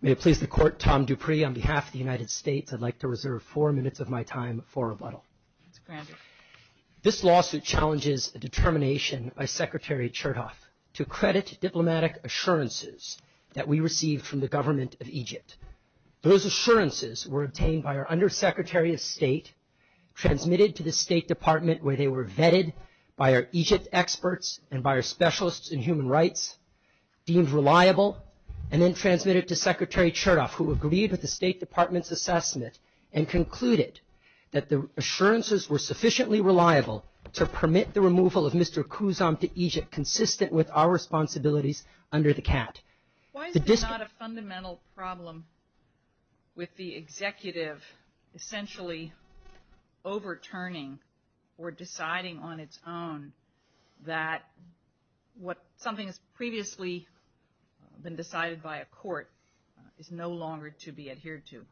May it please the Court, Tom Dupree on behalf of the United States I'd like to reserve four minutes of my time for rebuttal. This lawsuit challenges a determination by Secretary Chertoff to credit diplomatic assurances that we were able to obtain. Those assurances were obtained by our Undersecretary of State, transmitted to the State Department where they were vetted by our Egypt experts and by our specialists in human rights, deemed reliable, and then transmitted to Secretary Chertoff who agreed with the State Department's assessment and concluded that the assurances were sufficiently reliable to permit the removal of Mr. Khouzam to Egypt consistent with our responsibilities under the CAT. Why is it not a fundamental problem with the executive essentially overturning or deciding on its own that what something has previously been decided by a court is no longer to be adhered to?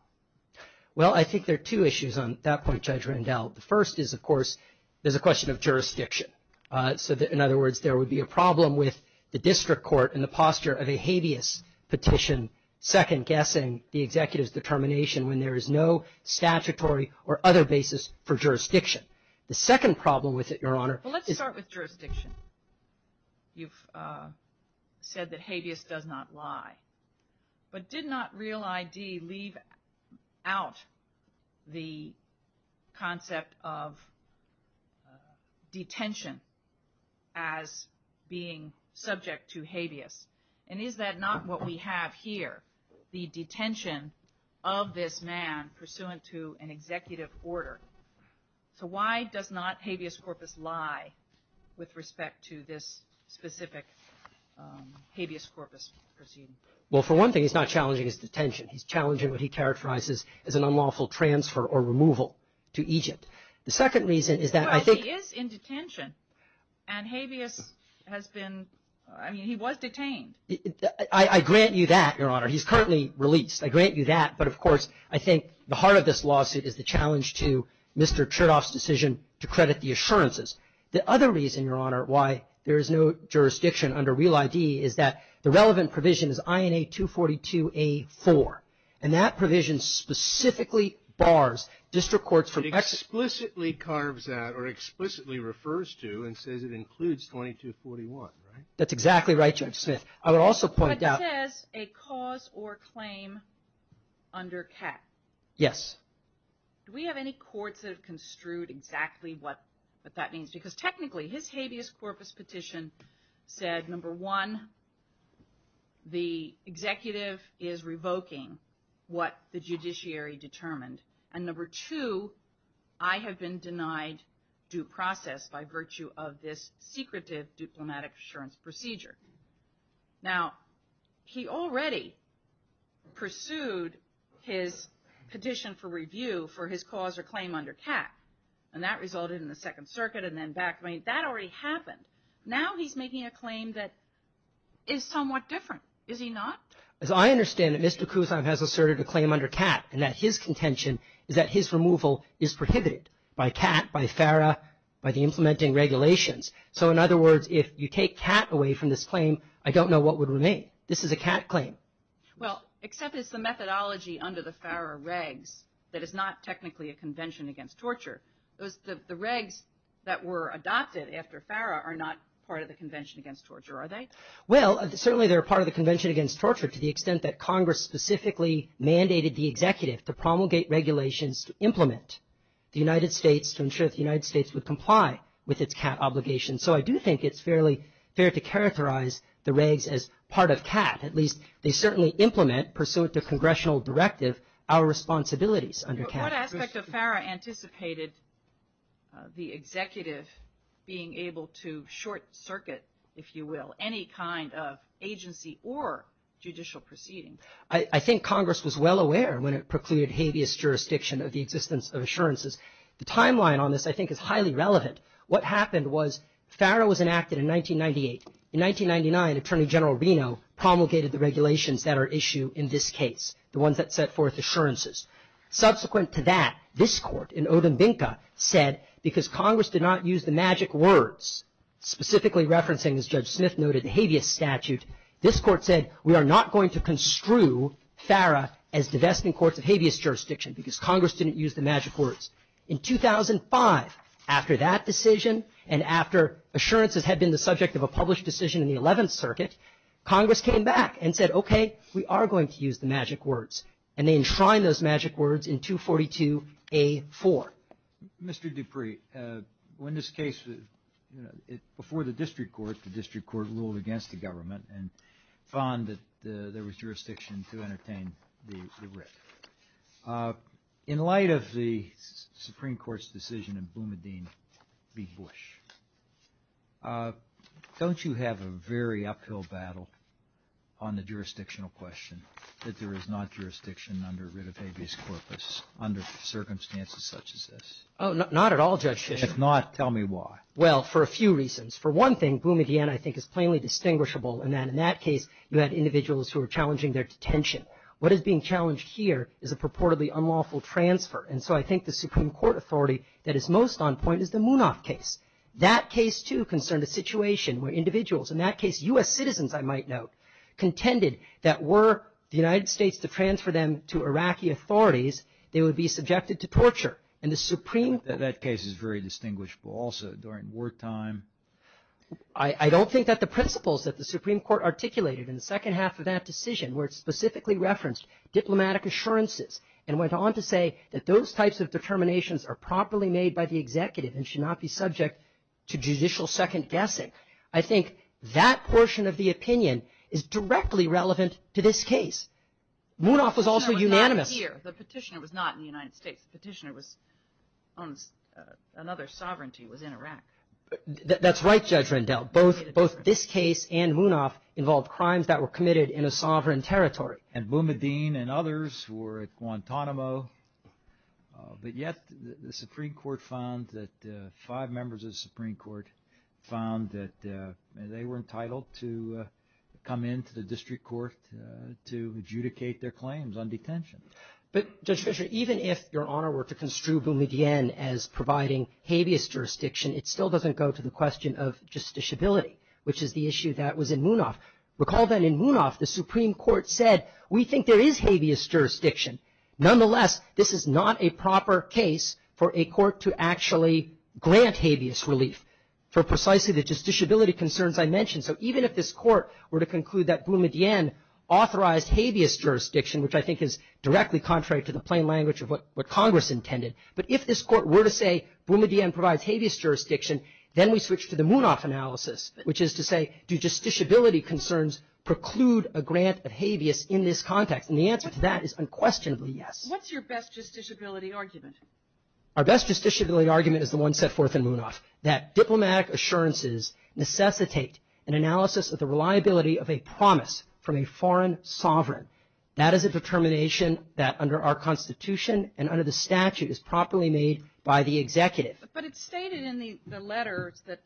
Well I think there are two issues on that point Judge Rendell. The first is of course there's a question of jurisdiction so that in other words there would be a problem with the district court and the posture of a habeas petition second-guessing the executive's determination when there is no statutory or other basis for jurisdiction. Let's start with jurisdiction. You've said that habeas does not lie. But did not Real ID leave out the concept of detention as being subject to habeas? And is that not what we have here? The detention of this man pursuant to an executive order? So why does not habeas corpus lie with respect to this specific habeas corpus? Well for one thing he's not challenging his detention. He's challenging what he characterizes as an unlawful transfer or removal to Egypt. The second reason is that I think... But he is in detention and habeas has been, I mean he was detained. I grant you that Your Honor. He's currently released. I grant you that. But of course I think the heart of this lawsuit is the challenge to Mr. Chertoff's decision to credit the assurances. The other reason, Your Honor, why there is no jurisdiction under Real ID is that the relevant provision is INA 242A4. And that provision specifically bars district courts from... It explicitly carves out or explicitly refers to and says it includes 2241, right? That's exactly right, Judge Smith. I would also point out... But it says a cause or claim under CAC. Yes. Do we have any courts that have construed exactly what that means? Because technically his habeas corpus petition said, number one, the executive is revoking what the judiciary determined. And number two, I have been denied due process by virtue of this secretive diplomatic assurance procedure. Now, he already pursued his petition for review for his cause or claim under CAC. And that resulted in the Second Circuit and then back. I mean, that already happened. Now he's making a claim that is somewhat different. Is he not? As I understand it, Mr. Cusack has asserted a claim under CAC and that his contention is that his removal is prohibited by CAC, by FARA, by the implementing regulations. So, in other words, if you take CAC away from this claim, I don't know what would remain. This is a CAC claim. Well, except it's the methodology under the FARA regs that is not technically a convention against torture. The regs that were adopted after FARA are not part of the convention against torture, are they? Well, certainly they're part of the convention against torture to the extent that Congress specifically mandated the executive to promulgate regulations to implement the United States would comply with its CAC obligations. So, I do think it's fairly fair to characterize the regs as part of CAC. At least they certainly implement, pursuant to congressional directive, our responsibilities under CAC. What aspect of FARA anticipated the executive being able to short circuit, if you will, any kind of agency or judicial proceeding? I think Congress was well aware when it precluded habeas jurisdiction of the existence of assurances. The timeline on this, I think, is highly relevant. What happened was FARA was enacted in 1998. In 1999, Attorney General Reno promulgated the regulations that are issued in this case, the ones that set forth assurances. Subsequent to that, this court in Odumbinka said, because Congress did not use the magic words, specifically referencing, as Judge Smith noted, the habeas statute, this court said, we are not going to construe FARA as divesting courts of habeas jurisdiction because Congress didn't use the magic words. In 2005, after that decision and after assurances had been the subject of a published decision in the 11th Circuit, Congress came back and said, okay, we are going to use the magic words. And they enshrined those magic words in 242A4. Mr. Dupree, in this case, before the district court, the district court ruled against the government and found that there was jurisdiction to entertain the writ. In light of the Supreme Court's decision in Boumediene v. Bush, don't you have a very uphill battle on the jurisdictional question that there is not jurisdiction under writ of habeas corpus under circumstances such as this? Oh, not at all, Judge Smith. If not, tell me why. Well, for a few reasons. For one thing, Boumediene, I think, is plainly distinguishable in that in that case, you had individuals who were challenging their detention. What is being challenged here is a purportedly unlawful transfer. And so I think the Supreme Court authority that is most on point is the Munaf case. That case, too, concerned a situation where individuals, in that case, U.S. citizens, I might note, contended that were the United States to transfer them to Iraqi authorities, they would be subjected to torture. And the Supreme Court That case is very distinguishable. Also, during wartime I don't think that the principles that the Supreme Court articulated in the second half of that decision were specifically referenced diplomatic assurances and went on to say that those types of determinations are properly made by the executive and should not be subject to judicial second-guessing. I think that portion of the opinion is directly relevant to this case. Munaf was also unanimous. The petitioner was not in the United States. The petitioner was another sovereignty within Iraq. That's right, Judge Rendell. Both this case and Munaf involved crimes that were committed in a sovereign territory. And Boumediene and others were at Guantanamo. But yet, the Supreme Court found that five members of the Supreme Court found that they were entitled to come into the district court to adjudicate their claims on detention. But, Judge Fischer, even if Your Honor were to construe Boumediene as providing habeas jurisdiction, it still doesn't go to the question of justiciability, which is the issue that was in Munaf. Recall that in Munaf, the Supreme Court said, we think there is habeas jurisdiction. Nonetheless, this is not a proper case for a court to actually grant habeas relief for precisely the justiciability concerns I mentioned. So even if this court were to conclude that Boumediene authorized habeas jurisdiction, which I think is directly contrary to the plain language of what Congress intended, but if this court were to say Boumediene provides habeas jurisdiction, then we switch to the Munaf analysis, which is to say, do justiciability concerns preclude a grant of habeas in this context? And the answer to that is unquestionably yes. What's your best justiciability argument? Our best justiciability argument is the one set forth in Munaf, that diplomatic assurances necessitate an analysis of the reliability of a promise from a foreign sovereign. That is a determination that under our Constitution and under the statute is properly made by the executive. But it's stated in the letter that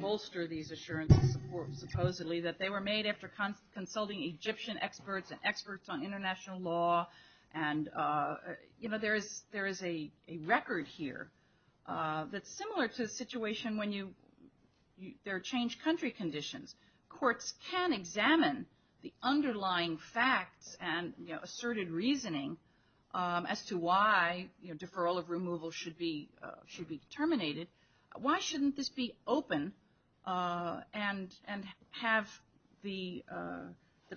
bolster these assurances, supposedly, that they were made after consulting Egyptian experts and experts on international law. And, you know, there is a record here that's similar to a situation when you – there are changed country conditions. Courts can examine the underlying facts and, you know, why shouldn't this be open and have the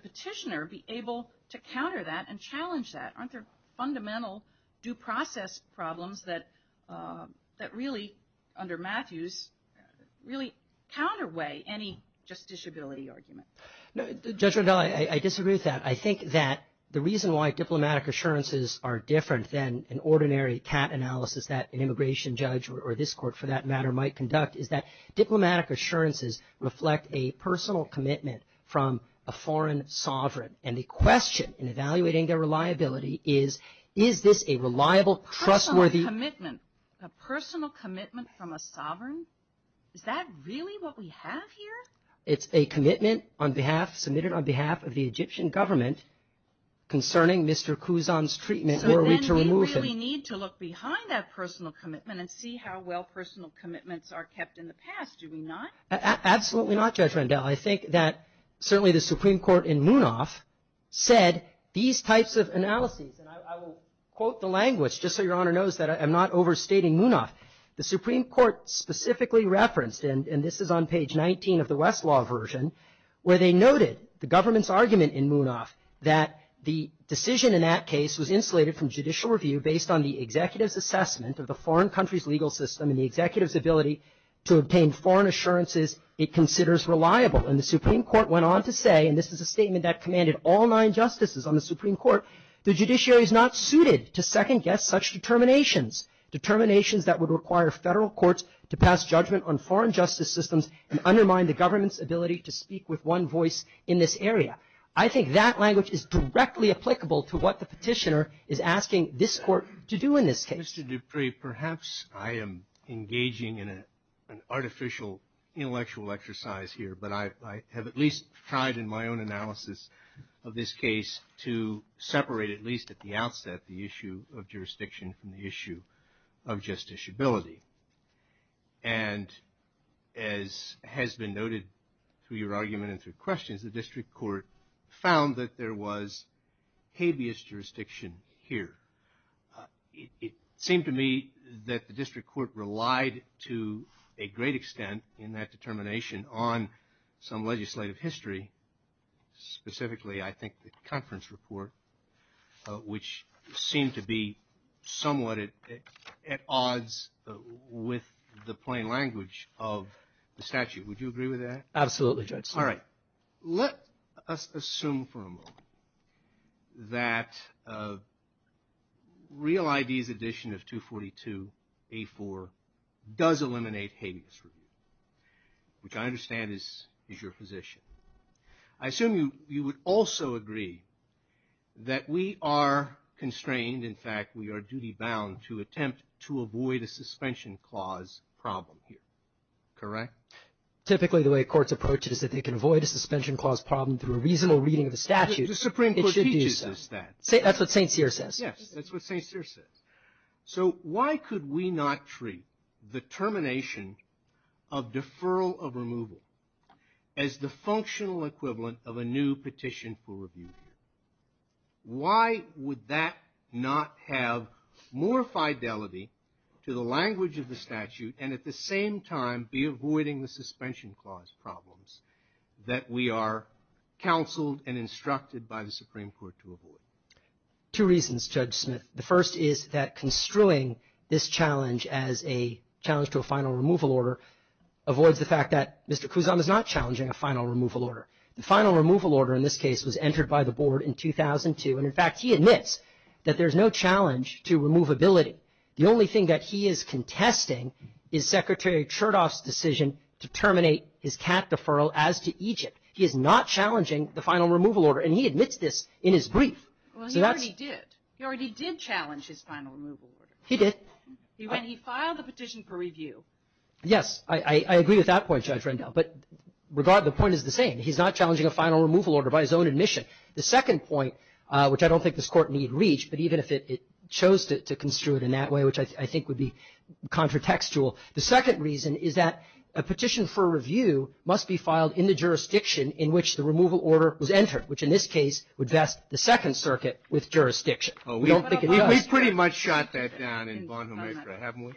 petitioner be able to counter that and challenge that? Aren't there fundamental due process problems that really, under Matthews, really counterweigh any justiciability argument? Judge Rundell, I disagree with that. I think that the reason why diplomatic assurances are different than an ordinary TAP analysis, that an immigration judge or this court, for that matter, might conduct, is that diplomatic assurances reflect a personal commitment from a foreign sovereign. And the question in evaluating their reliability is, is this a reliable, trustworthy – Personal commitment? A personal commitment from a sovereign? Is that really what we have here? It's a commitment on behalf – submitted on behalf of the Egyptian government concerning Mr. Khuzdam's treatment in order to remove him. Do we really need to look behind that personal commitment and see how well personal commitments are kept in the past? Do we not? Absolutely not, Judge Rundell. I think that certainly the Supreme Court in Munaf said these types of analyses, and I will quote the language just so Your Honor knows that I'm not overstating Munaf. The Supreme Court specifically referenced, and this is on page 19 of the Westlaw version, where they noted the government's argument in Munaf that the decision in that case was insulated from judicial review based on the executive's assessment of the foreign country's legal system and the executive's ability to obtain foreign assurances it considers reliable. And the Supreme Court went on to say, and this is a statement that commanded all nine justices on the Supreme Court, the judiciary is not suited to second-guess such determinations, determinations that would require federal courts to pass judgment on foreign justice systems and undermine the government's ability to speak with one voice in this area. I think that language is directly applicable to what the petitioner is asking this court to do in this case. Mr. Dupree, perhaps I am engaging in an artificial intellectual exercise here, but I have at least tried in my own analysis of this case to separate, at least at the outset, the issue of jurisdiction from the issue of justiciability. And as has been noted through your argument and through questions, the district court found that there was habeas jurisdiction here. It seemed to me that the district court relied to a great extent in that determination on some legislative history, specifically I think the conference report, which seemed to be somewhat at odds with the plain language of the statute. Would you agree with that? Absolutely, Judge. All right. Let us assume for a moment that Real ID's addition of 242A4 does eliminate habeas jurisdiction, which I understand is your position. I assume you would also agree that we are constrained, in fact, we are duty-bound to attempt to avoid a suspension clause problem here. Correct? Typically the way courts approach it is that they can avoid a suspension clause problem through a reasonable reading of the statute. The Supreme Court teaches us that. That's what St. Cyr says. Yes, that's what St. Cyr says. So why could we not treat the termination of deferral of removal as the functional equivalent of a new petition for review? Why would that not have more fidelity to the language of the statute and at the same time be avoiding the suspension clause problems that we are counseled and instructed by the Supreme Court to avoid? Two reasons, Judge Smith. The first is that construing this challenge as a challenge to a final removal order avoids the fact that Mr. Kuzan is not challenging a final removal order. The final removal order in this case was entered by the Board in 2002, and in fact he admits that there's no challenge to removability. The only thing that he is contesting is Secretary Chertoff's decision to terminate his TAP deferral as to Egypt. He is not challenging the final removal order, and he admits this in his brief. Well, he already did. He already did challenge his final removal order. He did. And he filed a petition for review. Yes. I agree with that point, Judge Rendell. But regardless, the point is the same. He's not challenging a final removal order by his own admission. The second point, which I don't think this Court need reach, but even if it chose to construe it in that way, which I think would be contratextual, the second reason is that a petition for review must be filed in the jurisdiction in which the removal order was entered, which in this case would vest the Second Circuit with jurisdiction. We don't think it does. We've pretty much shot that down in Baltimore, haven't we?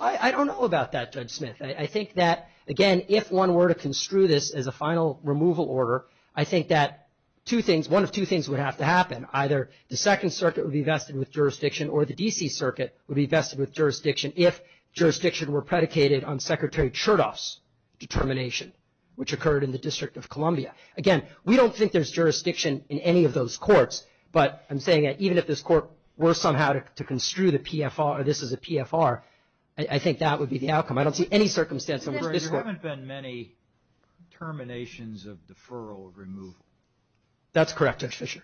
I don't know about that, Judge Smith. I think that, again, if one were to construe this as a final removal order, I think that one of two things would have to happen. Either the Second Circuit would be vested with jurisdiction or the D.C. Circuit would be vested with jurisdiction if jurisdiction were predicated on Secretary Chertoff's determination, which occurred in the District of Columbia. Again, we don't think there's jurisdiction in any of those courts, but I'm saying that even if this Court were somehow to construe the PFR, this is a PFR, I think that would be the outcome. I don't see any circumstance in this Court. There haven't been many terminations of deferral of removal. That's correct, Judge Fischer.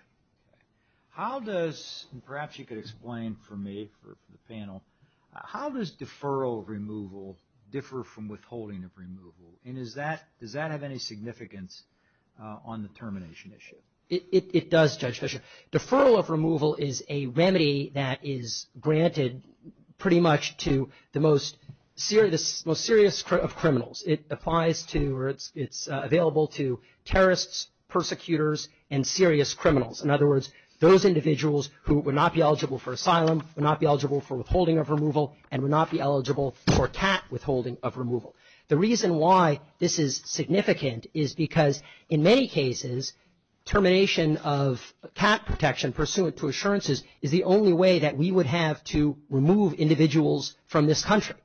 How does, and perhaps you could explain for me, for the panel, how does deferral of removal differ from withholding of removal? And does that have any significance on the termination issue? It does, Judge Fischer. Deferral of removal is a remedy that is granted pretty much to the most serious of criminals. It applies to or it's available to terrorists, persecutors, and serious criminals. In other words, those individuals who would not be eligible for asylum, would not be eligible for withholding of removal, and would not be eligible for TAT withholding of removal. The reason why this is significant is because, in many cases, termination of TAT protection pursuant to assurances is the only way that we would have to remove individuals from this country.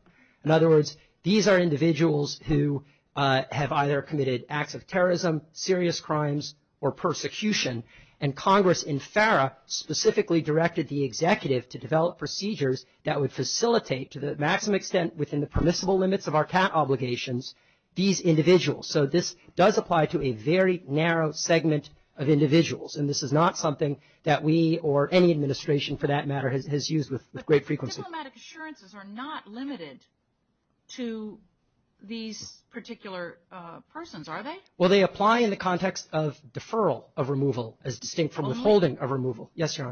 In other words, these are individuals who have either committed acts of terrorism, serious crimes, or persecution, and Congress in FARA specifically directed the executive to develop procedures that would facilitate to the maximum extent within the permissible limits of our TAT obligations, these individuals. So this does apply to a very narrow segment of individuals, and this is not something that we or any administration, for that matter, has used with great frequency. But diplomatic assurances are not limited to these particular persons, are they? Well, they apply in the context of deferral of removal as distinct from withholding of removal. Yes, Your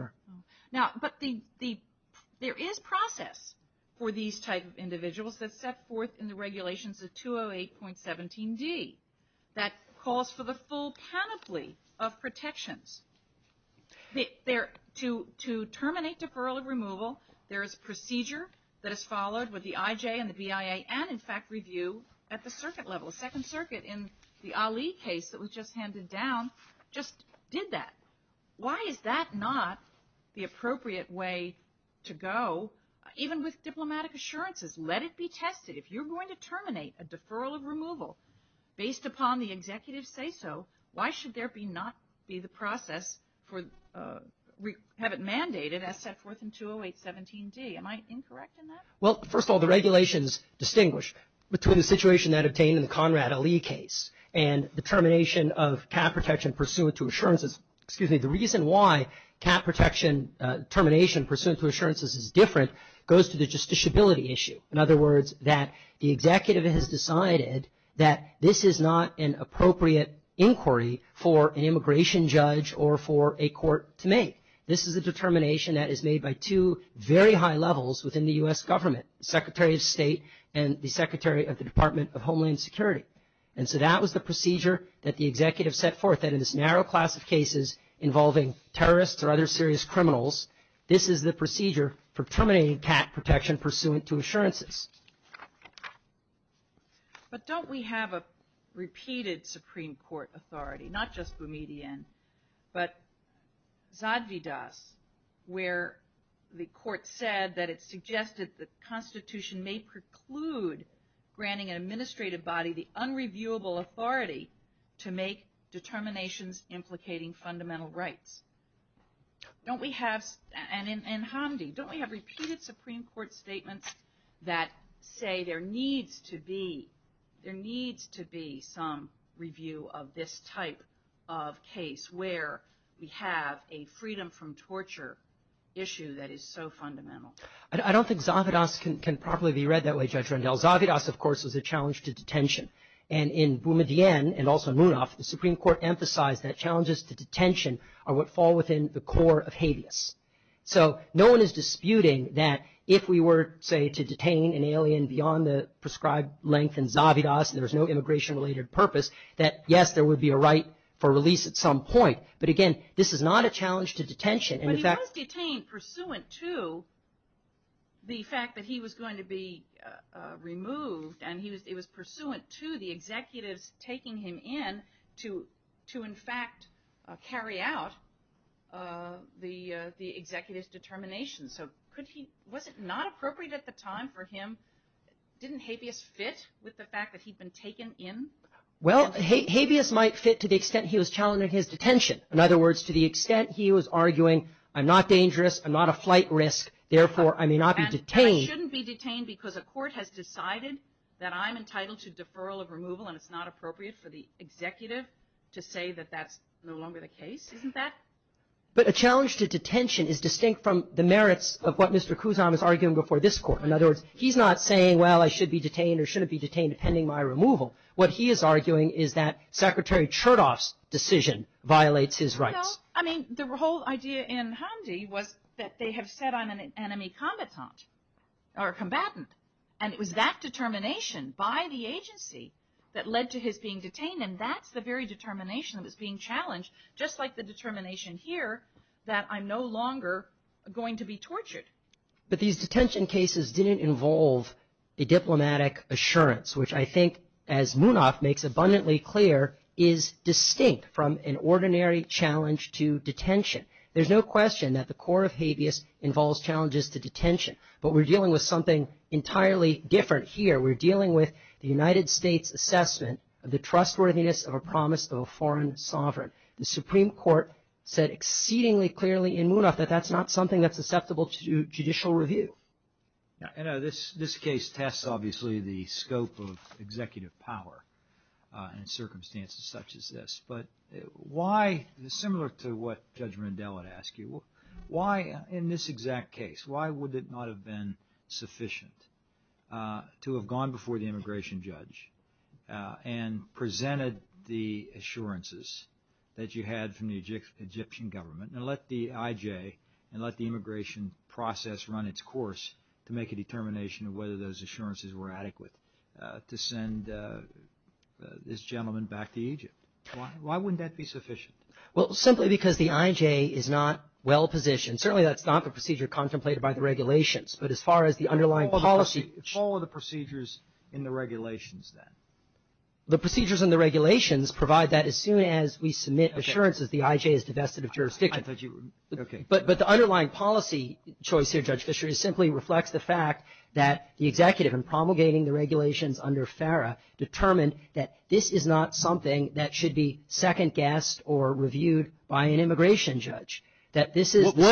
Honor. But there is process for these types of individuals that set forth in the regulations of 208.17d that calls for the full panoply of protections. To terminate deferral of removal, there is procedure that is followed with the IJ and the BIA, and, in fact, review at the circuit level. Second Circuit, in the Ali case that was just handed down, just did that. Why is that not the appropriate way to go, even with diplomatic assurances? Let it be tested. If you're going to terminate a deferral of removal based upon the executive's say-so, why should there not be the process for have it mandated as set forth in 208.17d? Am I incorrect in that? Well, first of all, the regulations distinguish between the situation that obtained in the Conrad Ali case and the termination of cap protection pursuant to assurances. Excuse me. The reason why cap protection termination pursuant to assurances is different goes to the justiciability issue. In other words, that the executive has decided that this is not an appropriate inquiry for an immigration judge or for a court to make. This is a determination that is made by two very high levels within the U.S. government, the Secretary of State and the Secretary of the Department of Homeland Security. And so that was the procedure that the executive set forth, that in this narrow class of cases involving terrorists or other serious criminals, this is the procedure for terminating cap protection pursuant to assurances. But don't we have a repeated Supreme Court authority, not just Boumediene, but Zadvidas, where the court said that it suggested that the Constitution may preclude granting an administrative body the unreviewable authority to make determinations implicating fundamental rights. Don't we have, and Hamdi, don't we have repeated Supreme Court statements that say there needs to be some review of this type of case where we have a freedom from torture issue that is so fundamental? I don't think Zadvidas can properly be read that way, Judge Rendell. Zadvidas, of course, was a challenge to detention. And in Boumediene and also Munoz, the Supreme Court emphasized that challenges to detention are what fall within the core of habeas. So no one is disputing that if we were, say, to detain an alien beyond the prescribed length in Zadvidas and there's no immigration-related purpose, that yes, there would be a right for release at some point. But again, this is not a challenge to detention. But Munoz became pursuant to the fact that he was going to be removed, and it was pursuant to the executives taking him in to, in fact, carry out the executives' determinations. So was it not appropriate at the time for him? Didn't habeas fit with the fact that he'd been taken in? Well, habeas might fit to the extent he was challenging his detention. In other words, to the extent he was arguing, I'm not dangerous, I'm not a flight risk, therefore I may not be detained. But I shouldn't be detained because a court has decided that I'm entitled to deferral of removal and it's not appropriate for the executive to say that that's no longer the case, isn't that? But a challenge to detention is distinct from the merits of what Mr. Kuzan was arguing before this court. In other words, he's not saying, well, I should be detained or shouldn't be detained pending my removal. What he is arguing is that Secretary Chertoff's decision violates his rights. Well, I mean, the whole idea in Hamdi was that they had set on an enemy combatant, and it was that determination by the agency that led to his being detained, and that's the very determination that's being challenged, just like the determination here that I'm no longer going to be tortured. But these detention cases didn't involve the diplomatic assurance, which I think, as Munaf makes abundantly clear, is distinct from an ordinary challenge to detention. There's no question that the core of habeas involves challenges to detention, but we're dealing with something entirely different here. We're dealing with the United States assessment of the trustworthiness of a promise of a foreign sovereign. The Supreme Court said exceedingly clearly in Munaf that that's not something that's susceptible to judicial review. This case tests, obviously, the scope of executive power in circumstances such as this. But why, similar to what Judge Mandela would ask you, why in this exact case, why would it not have been sufficient to have gone before the immigration judge and presented the assurances that you had from the Egyptian government and let the IJ and let the immigration process run its course to make a determination of whether those assurances were adequate to send this gentleman back to Egypt? Why wouldn't that be sufficient? Well, simply because the IJ is not well-positioned. Certainly, that's not the procedure contemplated by the regulations, but as far as the underlying policy… What are the procedures in the regulations, then? The procedures in the regulations provide that as soon as we submit assurances that the IJ is divested of jurisdiction. But the underlying policy choice here, Judge Fisher, simply reflects the fact that the executive in promulgating the regulations under FARA determined that this is not something that should be second-guessed or reviewed by an immigration judge. What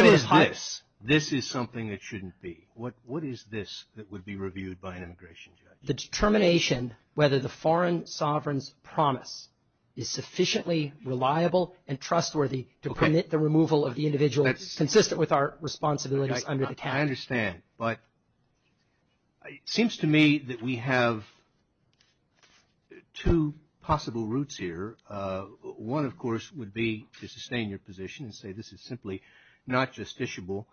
is this? This is something that shouldn't be. What is this that would be reviewed by an immigration judge? The determination whether the foreign sovereign's promise is sufficiently reliable and trustworthy to permit the removal of the individual consistent with our responsibilities under the cap. I understand, but it seems to me that we have two possible routes here. One, of course, would be to sustain your position and say this is simply not justiciable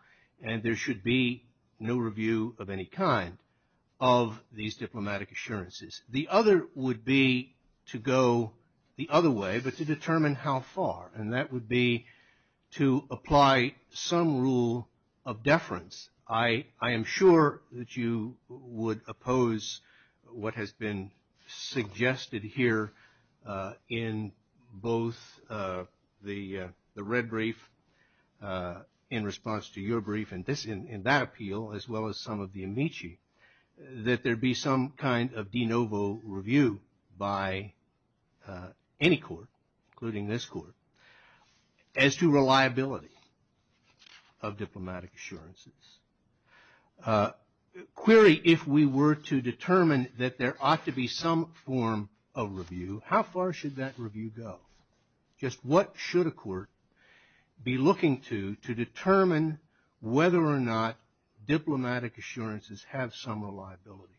and there should be no review of any kind of these diplomatic assurances. The other would be to go the other way but to determine how far, and that would be to apply some rule of deference. I am sure that you would oppose what has been suggested here in both the red brief in response to your brief and that appeal as well as some of the amici, that there be some kind of de novo review by any court, including this court, as to reliability of diplomatic assurances. Clearly, if we were to determine that there ought to be some form of review, how far should that review go? Just what should a court be looking to to determine whether or not diplomatic assurances have some reliability?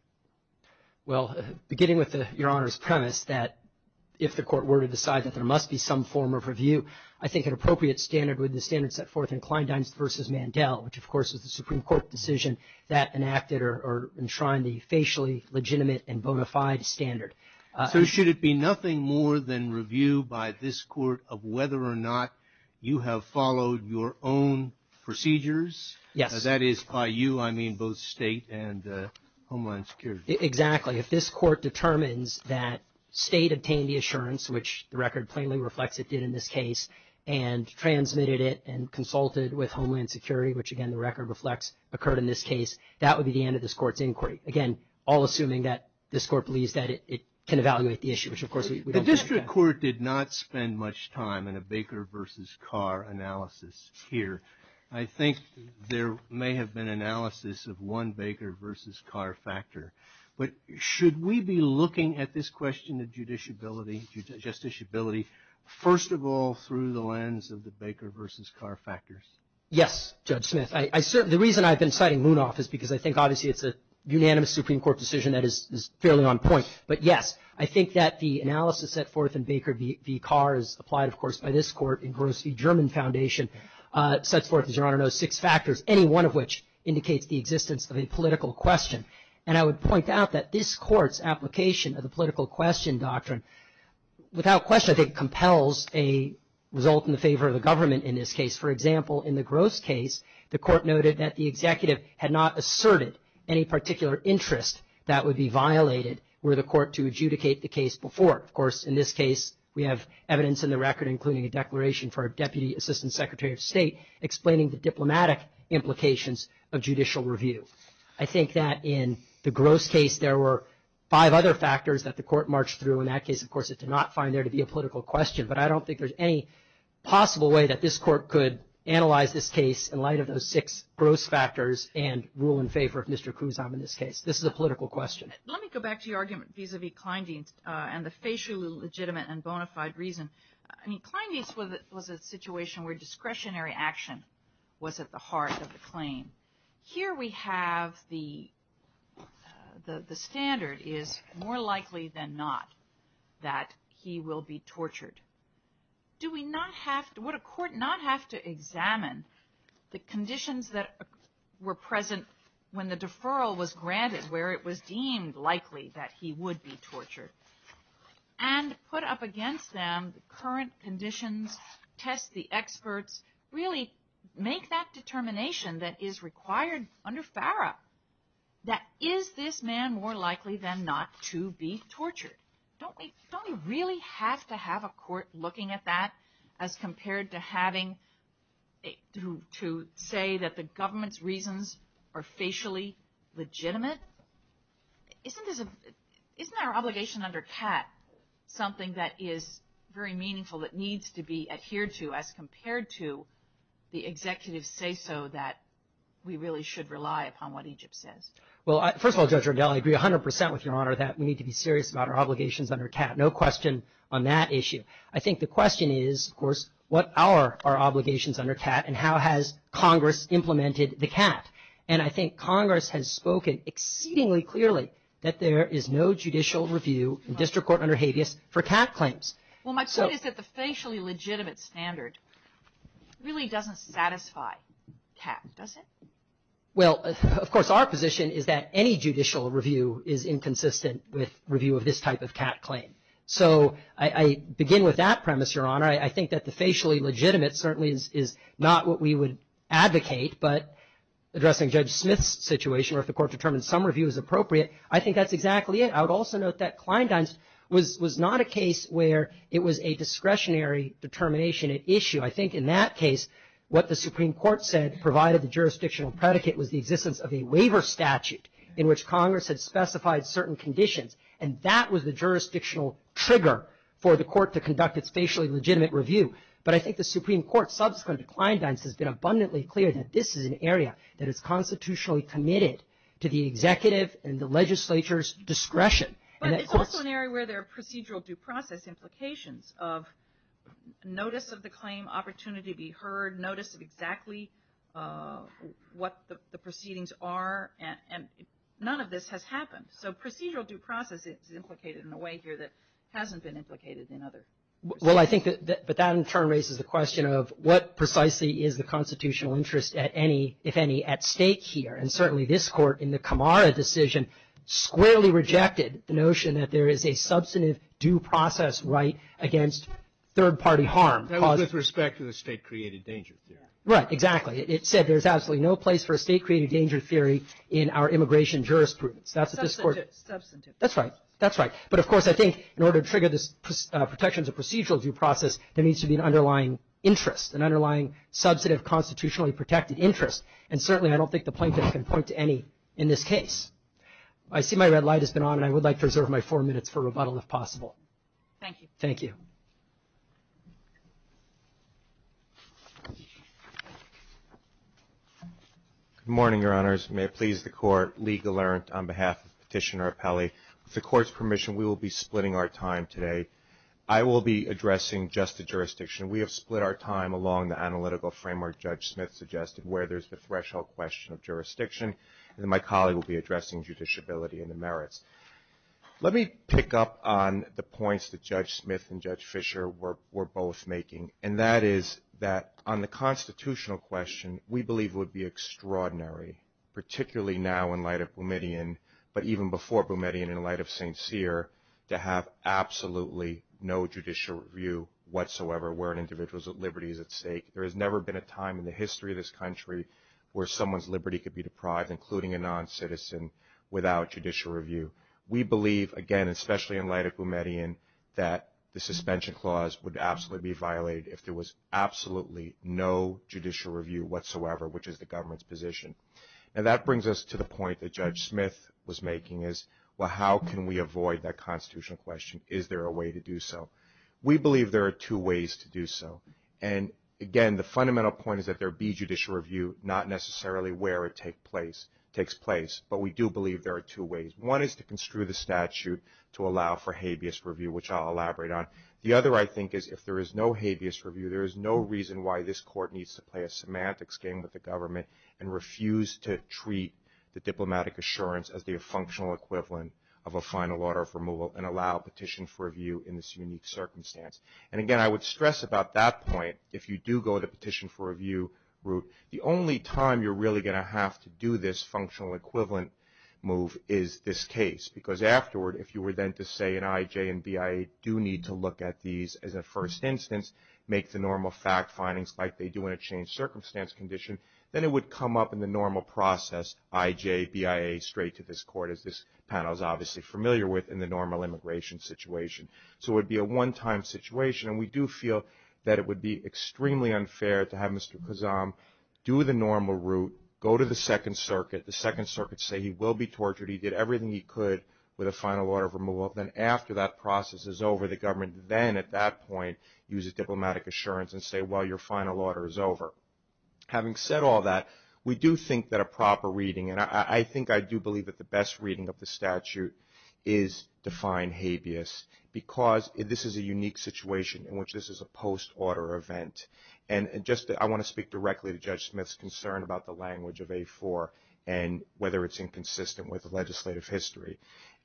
Well, beginning with Your Honor's premise that if the court were to decide that there must be some form of review, I think an appropriate standard would be the standard set forth in Kleindienst v. Mandel, which of course is the Supreme Court decision that enacted or enshrined the facially legitimate and bona fide standard. So should it be nothing more than review by this court of whether or not you have followed your own procedures? Yes. Because that is by you, I mean both state and Homeland Security. Exactly. If this court determines that state obtained the assurance, which the record plainly reflects it did in this case, and transmitted it and consulted with Homeland Security, which again the record reflects occurred in this case, that would be the end of this court's inquiry. Again, all assuming that this court believes that it can evaluate the issue, which of course we don't. The district court did not spend much time in a Baker v. Carr analysis here. I think there may have been analysis of one Baker v. Carr factor. But should we be looking at this question of judiciability, justiciability first of all through the lens of the Baker v. Carr factors? Yes, Judge Smith. The reason I've been citing Moonoff is because I think obviously it's a unanimous Supreme Court decision that is fairly on point. But, yes, I think that the analysis set forth in Baker v. Carr is applied, of course, by this court in Gross v. German Foundation. It sets forth, as Your Honor knows, six factors, any one of which indicates the existence of a political question. And I would point out that this court's application of the political question doctrine without question I think compels a result in the favor of the government in this case. For example, in the Gross case, the court noted that the executive had not asserted any particular interest that would be violated were the court to adjudicate the case before. Of course, in this case, we have evidence in the record, including a declaration for a Deputy Assistant Secretary of State, explaining the diplomatic implications of judicial review. I think that in the Gross case there were five other factors that the court marched through. In that case, of course, it did not find there to be a political question. But I don't think there's any possible way that this court could analyze this case in light of those six Gross factors and rule in favor of Mr. Kuznam in this case. This is a political question. Let me go back to your argument vis-a-vis Kleindienst and the spatially legitimate and bona fide reason. I mean, Kleindienst was a situation where discretionary action was at the heart of the claim. Here we have the standard is more likely than not that he will be tortured. Do we not have to – would a court not have to examine the conditions that were present when the deferral was granted, where it was deemed likely that he would be tortured and put up against them the current conditions, test the experts, really make that determination that is required under FARA, that is this man more likely than not to be tortured? Don't we really have to have a court looking at that as compared to having to say that the government's reasons are facially legitimate? Isn't our obligation under TAT something that is very meaningful, that needs to be adhered to as compared to the executive say-so that we really should rely upon what Egypt says? Well, first of all, Judge Rodelli, I agree 100% with Your Honor that we need to be serious about our obligations under TAT, no question on that issue. I think the question is, of course, what are our obligations under TAT and how has Congress implemented the TAT? And I think Congress has spoken exceedingly clearly that there is no judicial review in district court under habeas for TAT claims. Well, my point is that the facially legitimate standard really doesn't satisfy TAT, does it? Well, of course, our position is that any judicial review is inconsistent with review of this type of TAT claim. So I begin with that premise, Your Honor. I think that the facially legitimate certainly is not what we would advocate, but addressing Judge Smith's situation, or if the court determines some review is appropriate, I think that's exactly it. I would also note that Kleindienst was not a case where it was a discretionary determination at issue. I think in that case what the Supreme Court said provided the jurisdictional predicate was the existence of a waiver statute in which Congress had specified certain conditions. And that was the jurisdictional trigger for the court to conduct its facially legitimate review. But I think the Supreme Court subsequent to Kleindienst has been abundantly clear that this is an area that is constitutionally committed to the executive and the legislature's discretion. But it's also an area where there are procedural due process implications of notice of the claim, opportunity to be heard, notice of exactly what the proceedings are, and none of this has happened. So procedural due process is implicated in a way here that hasn't been implicated in other cases. Well, I think that that in turn raises the question of what precisely is the constitutional interest at any, if any, at stake here. And certainly this court in the Camara decision squarely rejected the notion that there is a substantive due process right against third-party harm. That was with respect to the state-created danger theory. Right, exactly. It said there's absolutely no place for a state-created danger theory in our immigration jurisprudence. Substantive. That's right. That's right. But, of course, I think in order to trigger the protections of procedural due process, there needs to be an underlying interest, an underlying substantive constitutionally protected interest. And certainly I don't think the plaintiff can point to any in this case. I see my red light has been on, and I would like to reserve my four minutes for rebuttal if possible. Thank you. Thank you. Good morning, Your Honors. May it please the Court. Lee Gelernt on behalf of Petitioner Appellee. With the Court's permission, we will be splitting our time today. I will be addressing just the jurisdiction. We have split our time along the analytical framework Judge Smith suggested, where there's the threshold question of jurisdiction, and then my colleague will be addressing judiciability and the merits. Let me pick up on the points that Judge Smith and Judge Fisher were both making, and that is that on the constitutional question, we believe it would be extraordinary, particularly now in light of Boumediene, but even before Boumediene in light of St. Cyr, to have absolutely no judicial review whatsoever where an individual's liberty is at stake. There has never been a time in the history of this country where someone's liberty could be deprived, including a noncitizen, without judicial review. We believe, again, especially in light of Boumediene, that the suspension clause would absolutely be violated if there was judicial review whatsoever, which is the government's position. And that brings us to the point that Judge Smith was making is, well, how can we avoid that constitutional question? Is there a way to do so? We believe there are two ways to do so. And, again, the fundamental point is that there be judicial review, not necessarily where it takes place. But we do believe there are two ways. One is to construe the statute to allow for habeas review, which I'll elaborate on. The other, I think, is if there is no habeas review, there is no reason why this court needs to play a semantics game with the government and refuse to treat the diplomatic assurance of the functional equivalent of a final order of removal and allow petition for review in this unique circumstance. And, again, I would stress about that point, if you do go to petition for review route, the only time you're really going to have to do this functional equivalent move is this case. Because afterward, if you were then to say an IJ and BIA do need to look at these as a first instance, make the normal fact findings, like they do in a changed circumstance condition, then it would come up in the normal process, IJ, BIA, straight to this court, as this panel is obviously familiar with, in the normal immigration situation. So it would be a one-time situation. And we do feel that it would be extremely unfair to have Mr. Kazam do the normal route, go to the Second Circuit, the Second Circuit say he will be tortured, he did everything he could with a final order of removal. Then after that process is over, the government then, at that point, uses diplomatic assurance and say, well, your final order is over. Having said all that, we do think that a proper reading, and I think I do believe that the best reading of the statute, is to find habeas. Because this is a unique situation in which this is a post-order event. And I want to speak directly to Judge Smith's concern about the language of A4 and whether it's inconsistent with the legislative history.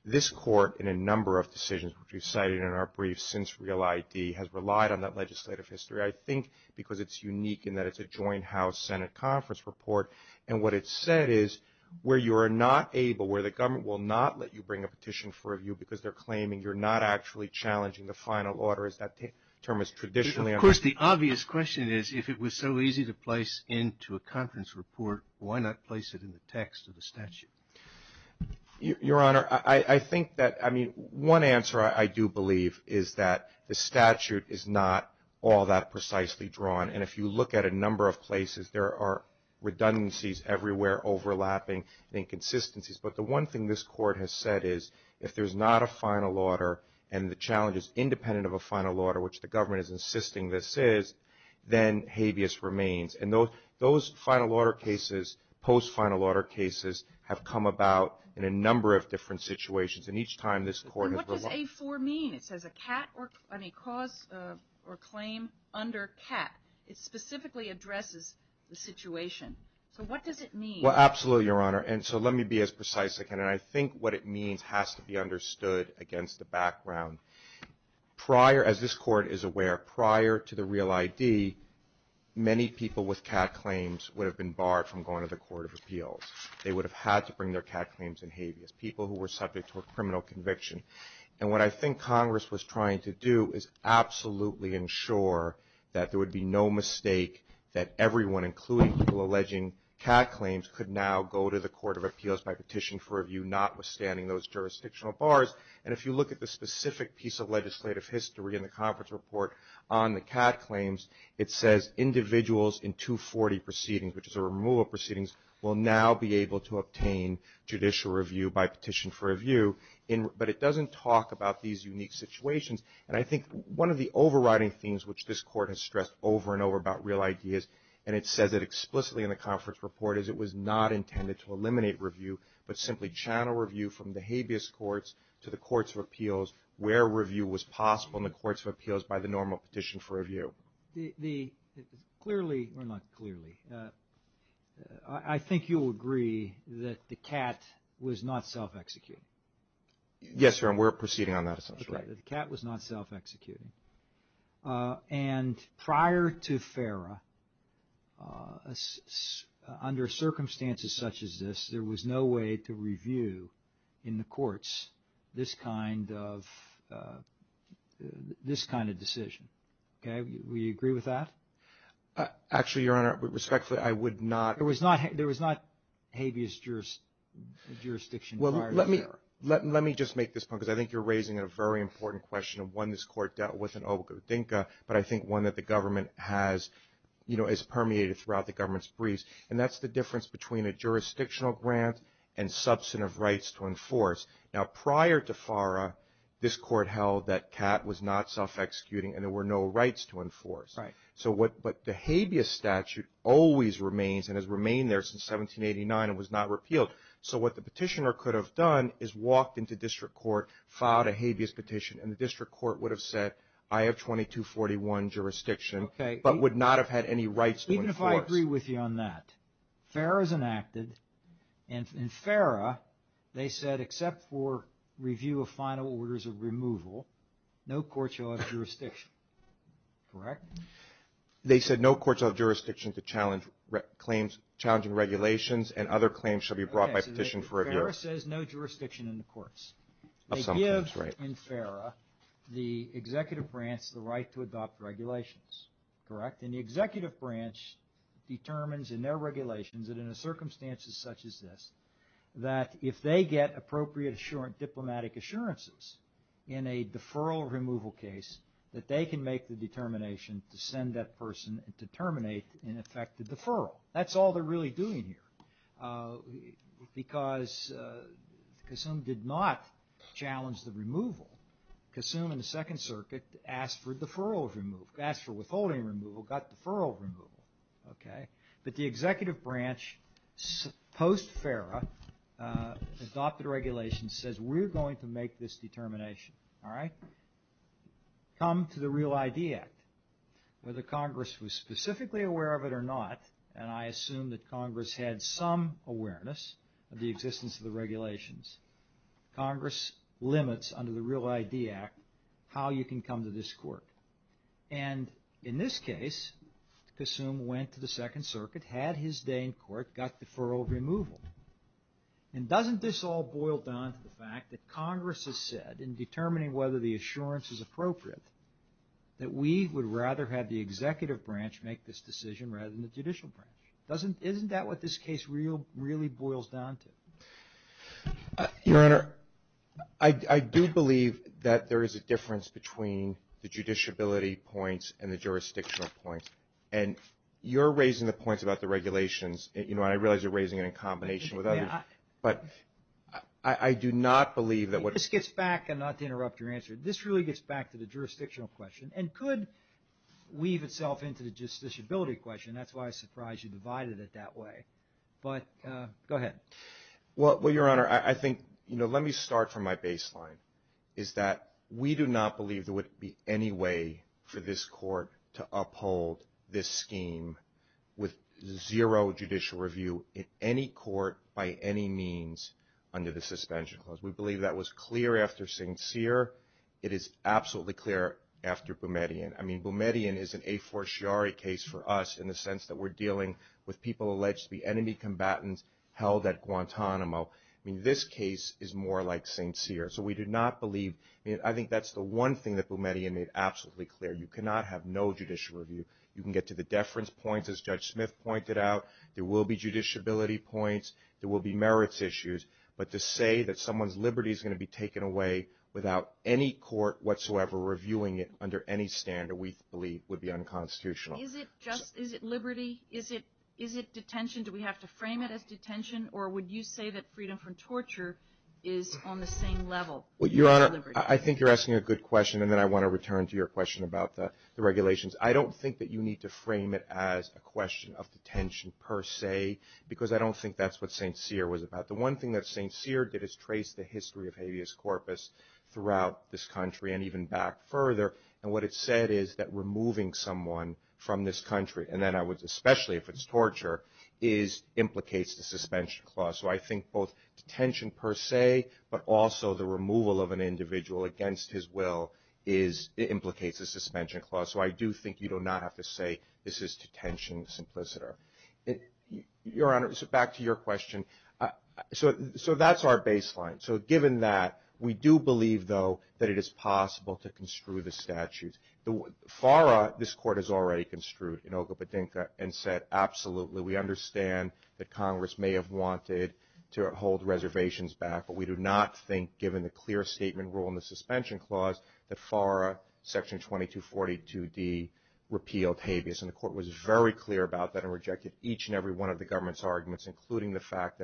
This court, in a number of decisions which we've cited in our briefs since Real ID, has relied on that legislative history, I think, because it's unique in that it's a joint House-Senate conference report. And what it said is, where you are not able, where the government will not let you bring a petition for review because they're claiming you're not actually challenging the final order, as that term is traditionally understood. Of course, the obvious question is, if it was so easy to place into a conference report, why not place it in the text of the statute? Your Honor, I think that, I mean, one answer I do believe is that the statute is not all that precisely drawn. And if you look at a number of places, there are redundancies everywhere overlapping inconsistencies. But the one thing this court has said is, if there's not a final order and the challenge is independent of a final order, which the government is insisting this is, then habeas remains. And those final order cases, post-final order cases, have come about in a number of different situations. And each time this court... And what does A4 mean? It says a cause or claim under PAT. It specifically addresses the situation. So what does it mean? Well, absolutely, Your Honor. And so let me be as precise as I can. And I think what it means has to be understood against the background. Prior, as this court is aware, prior to the Real ID, many people with CAT claims would have been barred from going to the Court of Appeals. They would have had to bring their CAT claims in habeas, people who were subject to a criminal conviction. And what I think Congress was trying to do is absolutely ensure that there would be no mistake that everyone, including people alleging CAT claims, could now go to the Court of Appeals by petition for review, notwithstanding those jurisdictional bars. And if you look at the specific piece of legislative history in the case of CAT claims, it says individuals in 240 proceedings, which is a removal of proceedings, will now be able to obtain judicial review by petition for review. But it doesn't talk about these unique situations. And I think one of the overriding things, which this court has stressed over and over about Real ID is, and it says it explicitly in the conference report, is it was not intended to eliminate review, but simply channel review from the habeas courts to the Courts of Appeals where review was possible in the Courts of Appeals by the normal petition for review. Clearly, or not clearly, I think you'll agree that the CAT was not self-executing. Yes, sir, and we're proceeding on that assumption. The CAT was not self-executing. And prior to FARA, under circumstances such as this, there was no way to review in the courts this kind of decision. Okay, do we agree with that? Actually, Your Honor, respectfully, I would not. There was not habeas jurisdiction prior to FARA. Let me just make this point, because I think you're raising a very important question, one this court dealt with in Albuquerque, but I think one that the government has, you know, is permeated throughout the government's briefs. And that's the difference between a jurisdictional grant and substantive rights to enforce. Now, prior to FARA, this court held that CAT was not self-executing and there were no rights to enforce. But the habeas statute always remains and has remained there since 1789 and was not repealed. So what the petitioner could have done is walked into district court, filed a habeas petition, and the district court would have said, I have 2241 jurisdiction, but would not have had any rights to enforce. Even if I agree with you on that, FARA is enacted, and in FARA, they said, except for review of final orders of removal, no court shall have jurisdiction. Correct? They said no court shall have jurisdiction to challenge claims, challenging regulations, and other claims shall be brought by petition for review. FARA says no jurisdiction in the courts. They give, in FARA, the executive branch the right to adopt regulations. Correct? And the executive branch determines in their regulations that in circumstances such as this, that if they get appropriate diplomatic assurances in a deferral removal case, that they can make the determination to send that person to terminate, in effect, the deferral. That's all they're really doing here. Because Kasum did not challenge the removal. Kasum, in the Second Circuit, asked for deferral removal, asked for withholding removal, got deferral removal. Okay? But the executive branch, post-FARA, adopted regulations, and says we're going to make this determination. All right? Come to the Real ID Act. Whether Congress was specifically aware of it or not, and I assume that Congress had some awareness of the existence of the regulations, Congress limits, under the Real ID Act, how you can come to this court. And in this case, Kasum went to the Second Circuit, had his day in court, got deferral removal. And doesn't this all boil down to the fact that Congress has said, in determining whether the assurance is appropriate, that we would rather have the executive branch make this decision rather than the judicial branch. Isn't that what this case really boils down to? Your Honor, I do believe that there is a difference between the judiciability points and the jurisdictional points. And you're raising the points about the regulations, and I realize you're raising it in combination with others, but I do not believe that what... This gets back, and not to interrupt your answer, this really gets back to the jurisdictional question, and could weave itself into the justiciability question. That's why I'm surprised you divided it that way. But go ahead. Well, Your Honor, I think, you know, let me start from my baseline, is that we do not believe there would be any way for this court to uphold this scheme with zero judicial review in any court by any means under the suspension clause. We believe that was clear after St. Cyr. It is absolutely clear after Boumediene. I mean, Boumediene is an a fortiori case for us in the sense that we're dealing with people alleged to be enemy combatants held at Guantanamo. I mean, this case is more like St. Cyr. So we do not believe... I think that's the one thing that Boumediene made absolutely clear. You cannot have no judicial review. You can get to the deference point, as Judge Smith pointed out. There will be judiciability points. There will be merits issues. But to say that someone's liberty is going to be taken away without any court whatsoever reviewing it under any standard we believe would be unconstitutional. Is it liberty? Is it detention? Do we have to frame it as detention? Or would you say that freedom from torture is on the same level? Well, Your Honor, I think you're asking a good question, and then I want to return to your question about the regulations. I don't think that you need to frame it as a question of detention per se because I don't think that's what St. Cyr was about. The one thing that St. Cyr did is trace the history of habeas corpus throughout this country and even back further. And what it said is that removing someone from this country, and then especially if it's torture, implicates a suspension clause. So I think both detention per se but also the removal of an individual against his will implicates a suspension clause. So I do think you do not have to say this is detention. It's implicit. Your Honor, back to your question. So that's our baseline. So given that, we do believe, though, that it is possible to construe the statute. FARA, this Court has already construed in Okapedinka and said, absolutely, we understand that Congress may have wanted to hold reservations back, but we do not think, given the clear statement rule in the suspension clause, that FARA Section 2242D repealed habeas. And the Court was very clear about that and rejected each and every one of the government's arguments, including the fact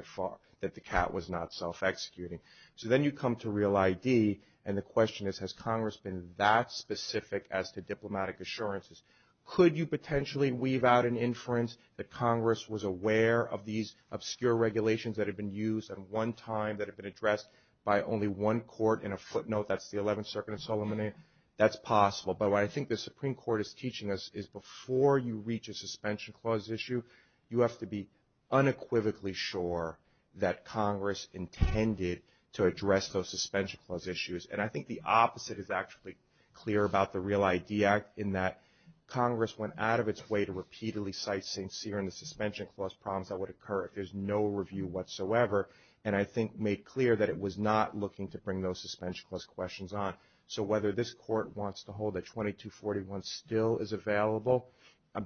that the cat was not self-executing. So then you come to Real ID, and the question is, has Congress been that specific as to diplomatic assurances? Could you potentially weave out an inference that Congress was aware of these obscure regulations that had been used at one time that had been addressed by only one court? In a footnote, that's the 11th Circuit of Solomonia. That's possible. But what I think the Supreme Court is teaching us is before you reach a suspension clause issue, you have to be unequivocally sure that Congress intended to address those suspension clause issues. And I think the opposite is actually clear about the Real ID Act in that Congress went out of its way to repeatedly cite St. Cyr in the suspension clause prompt that would occur if there's no review whatsoever, and I think made clear that it was not looking to bring those suspension clause questions on. So whether this court wants to hold that 2241 still is available,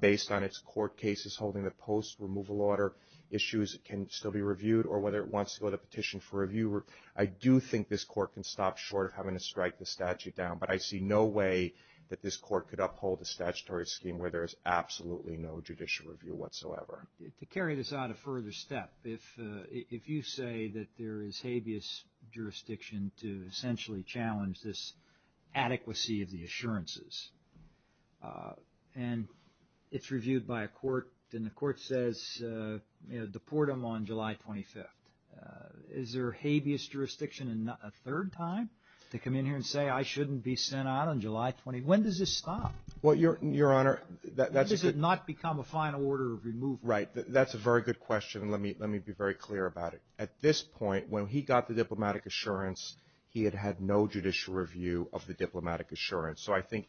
based on its court cases holding the post-removal order issues can still be reviewed, or whether it wants to put a petition for review, I do think this court can stop short of having to strike the statute down. But I see no way that this court could uphold the statutory scheme where there is absolutely no judicial review whatsoever. To carry this out a further step, if you say that there is habeas jurisdiction to essentially challenge this adequacy of the assurances, and it's reviewed by a court, then the court says deport them on July 25th. Is there habeas jurisdiction a third time to come in here and say, I shouldn't be sent out on July 20th? When does this stop? Your Honor, that's a good question. When does it not become a final order of removal? Right, that's a very good question. Let me be very clear about it. At this point, when he got the diplomatic assurance, he had had no judicial review of the diplomatic assurance. So I think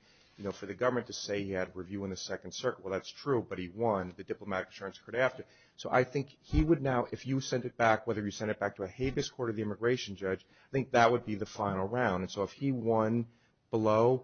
for the government to say he had review in the Second Circuit, well, that's true, but he won the diplomatic assurance court after. So I think he would now, if you send it back, whether you send it back to a habeas court or the immigration judge, I think that would be the final round. And so if he won below,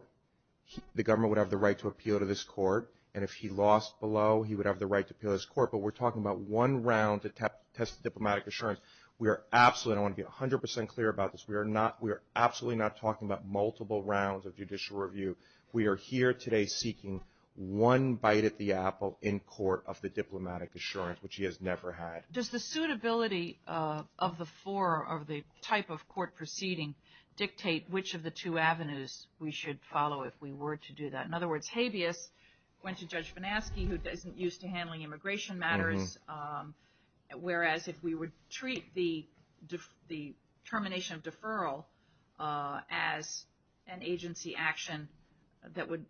the government would have the right to appeal to this court, and if he lost below, he would have the right to appeal to this court. But we're talking about one round to test the diplomatic assurance. I want to be 100% clear about this. We are absolutely not talking about multiple rounds of judicial review. We are here today seeking one bite at the apple in court of the diplomatic assurance, which he has never had. Does the suitability of the type of court proceeding dictate which of the two avenues we should follow if we were to do that? In other words, habeas, if it went to Judge Van Aske who isn't used to handling immigration matters, whereas if we would treat the termination of deferral as an agency action, that would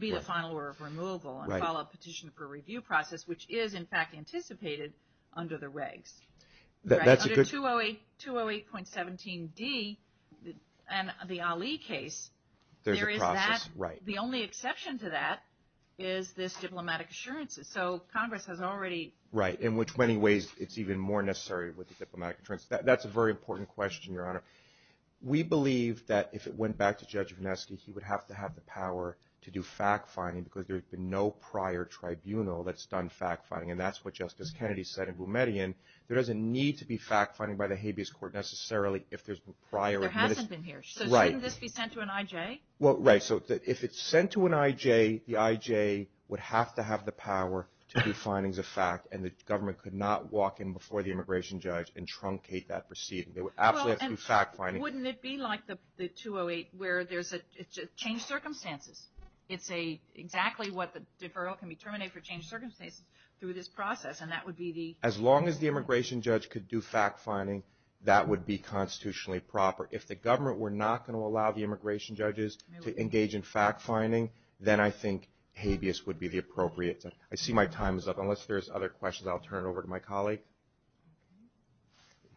be the final order of removal and follow a petition for review process, which is, in fact, anticipated under the regs. Under 208.17d and the Ali case, there is that. The only exception to that is this diplomatic assurance. So Congress has already – Right, in which many ways it's even more necessary with the diplomatic assurance. That's a very important question, Your Honor. We believe that if it went back to Judge Van Aske, he would have to have the power to do fact-finding because there's been no prior tribunal that's done fact-finding, and that's what Justice Kennedy said in Boumediene. There doesn't need to be fact-finding by the habeas court necessarily if there's prior – There hasn't been here. Right. So shouldn't this be sent to an IJ? Well, right, so if it's sent to an IJ, the IJ would have to have the power to do findings of fact, and the government could not walk in before the immigration judge and truncate that proceeding. They would have to do fact-finding. Well, and wouldn't it be like the 208 where there's a change of circumstances? It's exactly what the deferral can be terminated for change of circumstances through this process, and that would be the – as long as the immigration judge could do fact-finding, that would be constitutionally proper. If the government were not going to allow the immigration judges to engage in fact-finding, then I think habeas would be the appropriate – I see my time is up. Unless there's other questions, I'll turn it over to my colleague.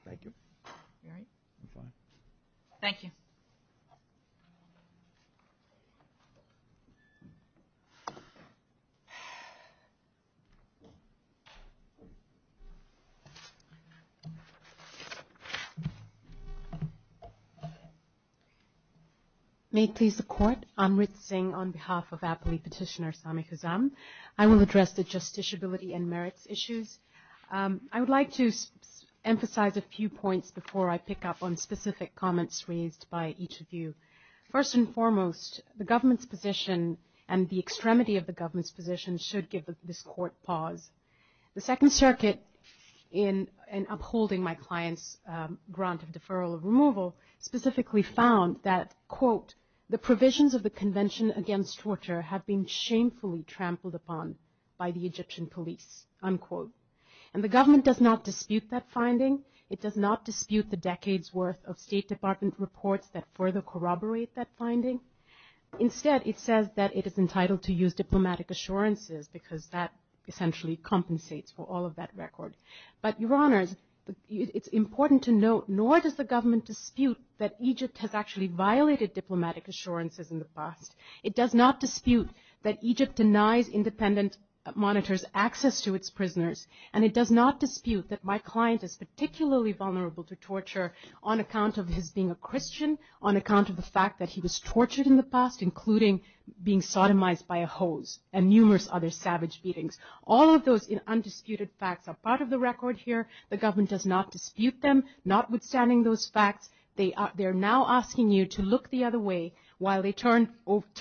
Thank you. Thank you. Thank you. May it please the Court, I'm Rit Singh on behalf of appellee petitioner Sami Khazam. I will address the justiciability and merits issues. I would like to emphasize a few points before I pick up on specific comments raised by each of you. First and foremost, the government's position and the extremity of the government's position should give this Court pause. The Second Circuit, in upholding my client's grant of deferral of removal, specifically found that, quote, the provisions of the Convention Against Torture have been shamefully trampled upon by the Egyptian police, unquote. And the government does not dispute that finding. It does not dispute the decades' worth of State Department reports that further corroborate that finding. Instead, it says that it is entitled to use diplomatic assurances because that essentially compensates for all of that record. But, Your Honor, it's important to note, nor does the government dispute that Egypt has actually violated diplomatic assurances in the past. It does not dispute that Egypt denies independent monitors access to its prisoners. And it does not dispute that my client is particularly vulnerable to torture on account of his being a Christian, on account of the fact that he was tortured in the past, including being sodomized by a hose and numerous other savage beatings. All of those undisputed facts are part of the record here. The government does not dispute them, notwithstanding those facts. They are now asking you to look the other way while they turn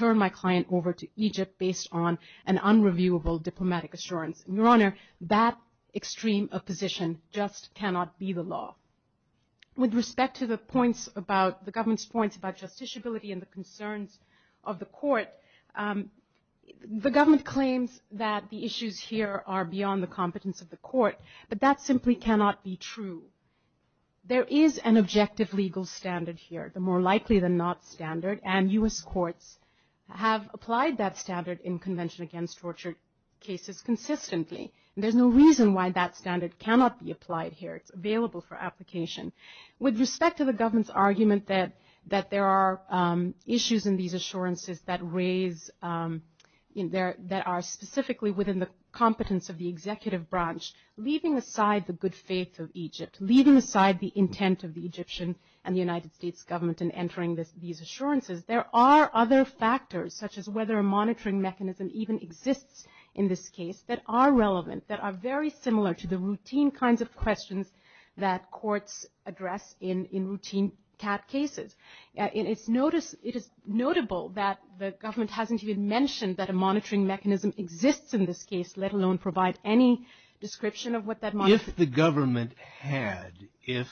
my client over to Egypt based on an unreviewable diplomatic assurance. Your Honor, that extreme opposition just cannot be the law. With respect to the government's points about justiciability and the concerns of the court, the government claims that the issues here are beyond the competence of the court, but that simply cannot be true. There is an objective legal standard here, the more likely than not standard, and U.S. courts have applied that standard in Convention Against Torture cases consistently. There's no reason why that standard cannot be applied here. It's available for application. With respect to the government's argument that there are issues in these assurances that are specifically within the competence of the executive branch, leaving aside the good faith of Egypt, leaving aside the intent of the Egyptian and the United States government in entering these assurances, there are other factors, such as whether a monitoring mechanism even exists in this case, that are relevant, that are very similar to the routine kinds of questions that courts address in routine TAP cases. It is notable that the government hasn't even mentioned that a monitoring mechanism exists in this case, let alone provide any description of what that monitoring mechanism is.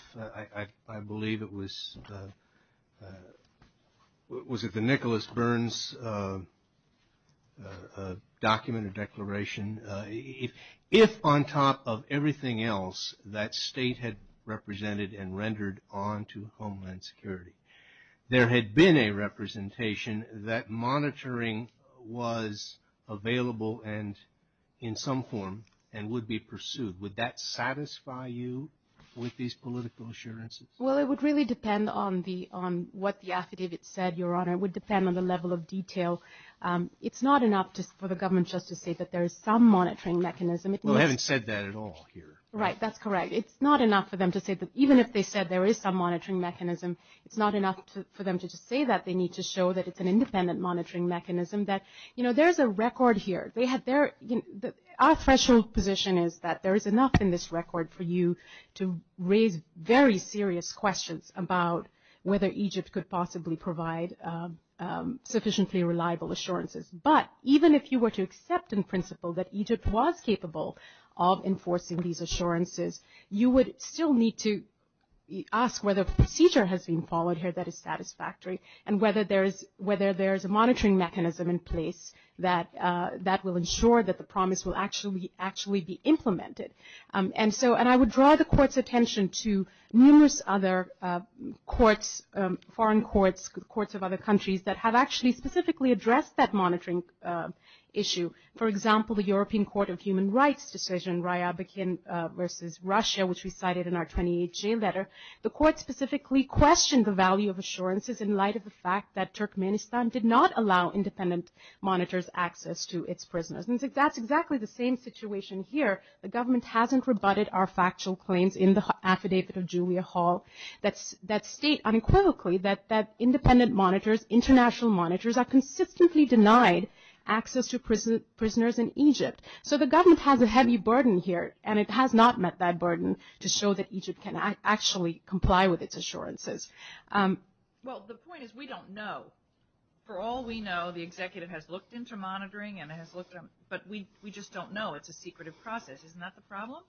If on top of everything else that state had represented and rendered on to Homeland Security, there had been a representation that monitoring was available in some form and would be pursued, would that satisfy you with these political assurances? Well, it would really depend on what the affidavit said, Your Honor. It would depend on the level of detail. It's not enough for the government just to say that there is some monitoring mechanism. Well, they haven't said that at all here. Right, that's correct. It's not enough for them to say that even if they said there is some monitoring mechanism, it's not enough for them to just say that they need to show that it's an independent monitoring mechanism. There's a record here. Our special position is that there is enough in this record for you to raise very serious questions about whether Egypt could possibly provide sufficiently reliable assurances. But even if you were to accept in principle that Egypt was capable of enforcing these assurances, you would still need to ask whether the procedure has been followed here that is satisfactory and whether there is a monitoring mechanism in place that will ensure that the promise will actually be implemented. And I would draw the Court's attention to numerous other courts, foreign courts, courts of other countries that have actually specifically addressed that monitoring issue. For example, the European Court of Human Rights decision, Riyadh versus Russia, which we cited in our 2018 letter, the Court specifically questioned the value of assurances in light of the fact that Turkmenistan did not allow independent monitors access to its prisoners. And that's exactly the same situation here. The government hasn't rebutted our factual claims in the affidavit of Julia Hall that state unequivocally that independent monitors, international monitors, are consistently denied access to prisoners in Egypt. So the government has a heavy burden here, and it has not met that burden to show that Egypt can actually comply with its assurances. Well, the point is we don't know. For all we know, the executive has looked into monitoring, but we just don't know. It's a secretive process. Isn't that the problem?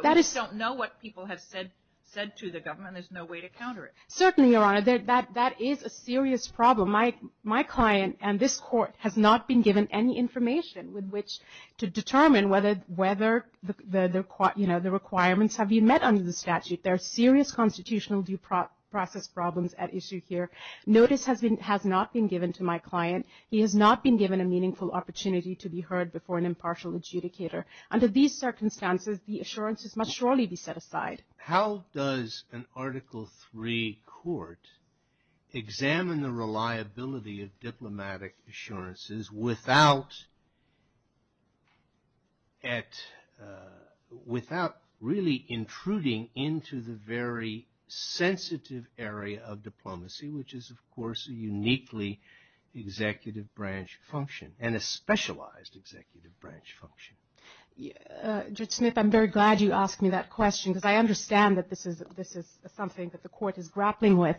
We don't know what people have said to the government. There's no way to counter it. Certainly, Your Honor. That is a serious problem. My client and this Court have not been given any information with which to determine whether the requirements have been met under the statute. There are serious constitutional due process problems at issue here. Notice has not been given to my client. He has not been given a meaningful opportunity to be heard before an impartial adjudicator. Under these circumstances, the assurances must surely be set aside. How does an Article III court examine the reliability of diplomatic assurances without really intruding into the very sensitive area of diplomacy, which is, of course, uniquely executive branch function and a specialized executive branch function? Judge Smith, I'm very glad you asked me that question because I understand that this is something that the Court is grappling with.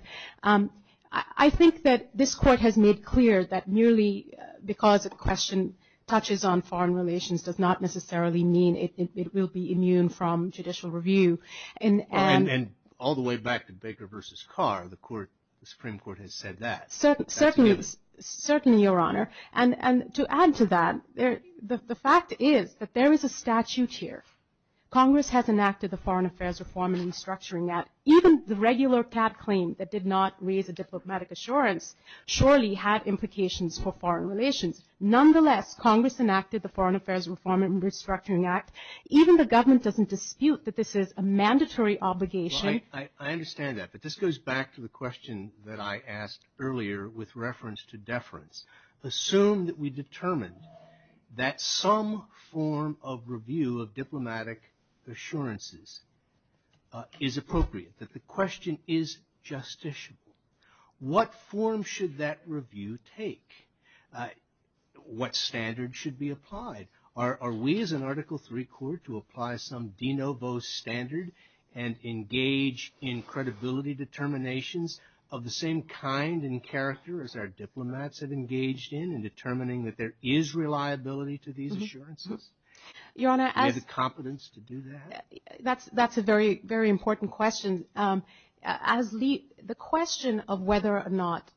I think that this Court has made clear that merely because a question touches on foreign relations does not necessarily mean it will be immune from judicial review. And all the way back to Baker v. Carr, the Supreme Court has said that. Certainly, Your Honor. And to add to that, the fact is that there is a statute here. Congress has enacted the Foreign Affairs Reform and Restructuring Act. Even the regular PAT claim that did not raise a diplomatic assurance surely had implications for foreign relations. Nonetheless, Congress enacted the Foreign Affairs Reform and Restructuring Act. Even the government doesn't dispute that this is a mandatory obligation. Well, I understand that. But this goes back to the question that I asked earlier with reference to deference. Assume that we determined that some form of review of diplomatic assurances is appropriate, that the question is justiciable. What form should that review take? What standard should be applied? Are we, as an Article III Court, to apply some de novo standard and engage in credibility determinations of the same kind and character as our diplomats have engaged in in determining that there is reliability to these assurances? Do we have the competence to do that? That's a very, very important question. The question of whether or not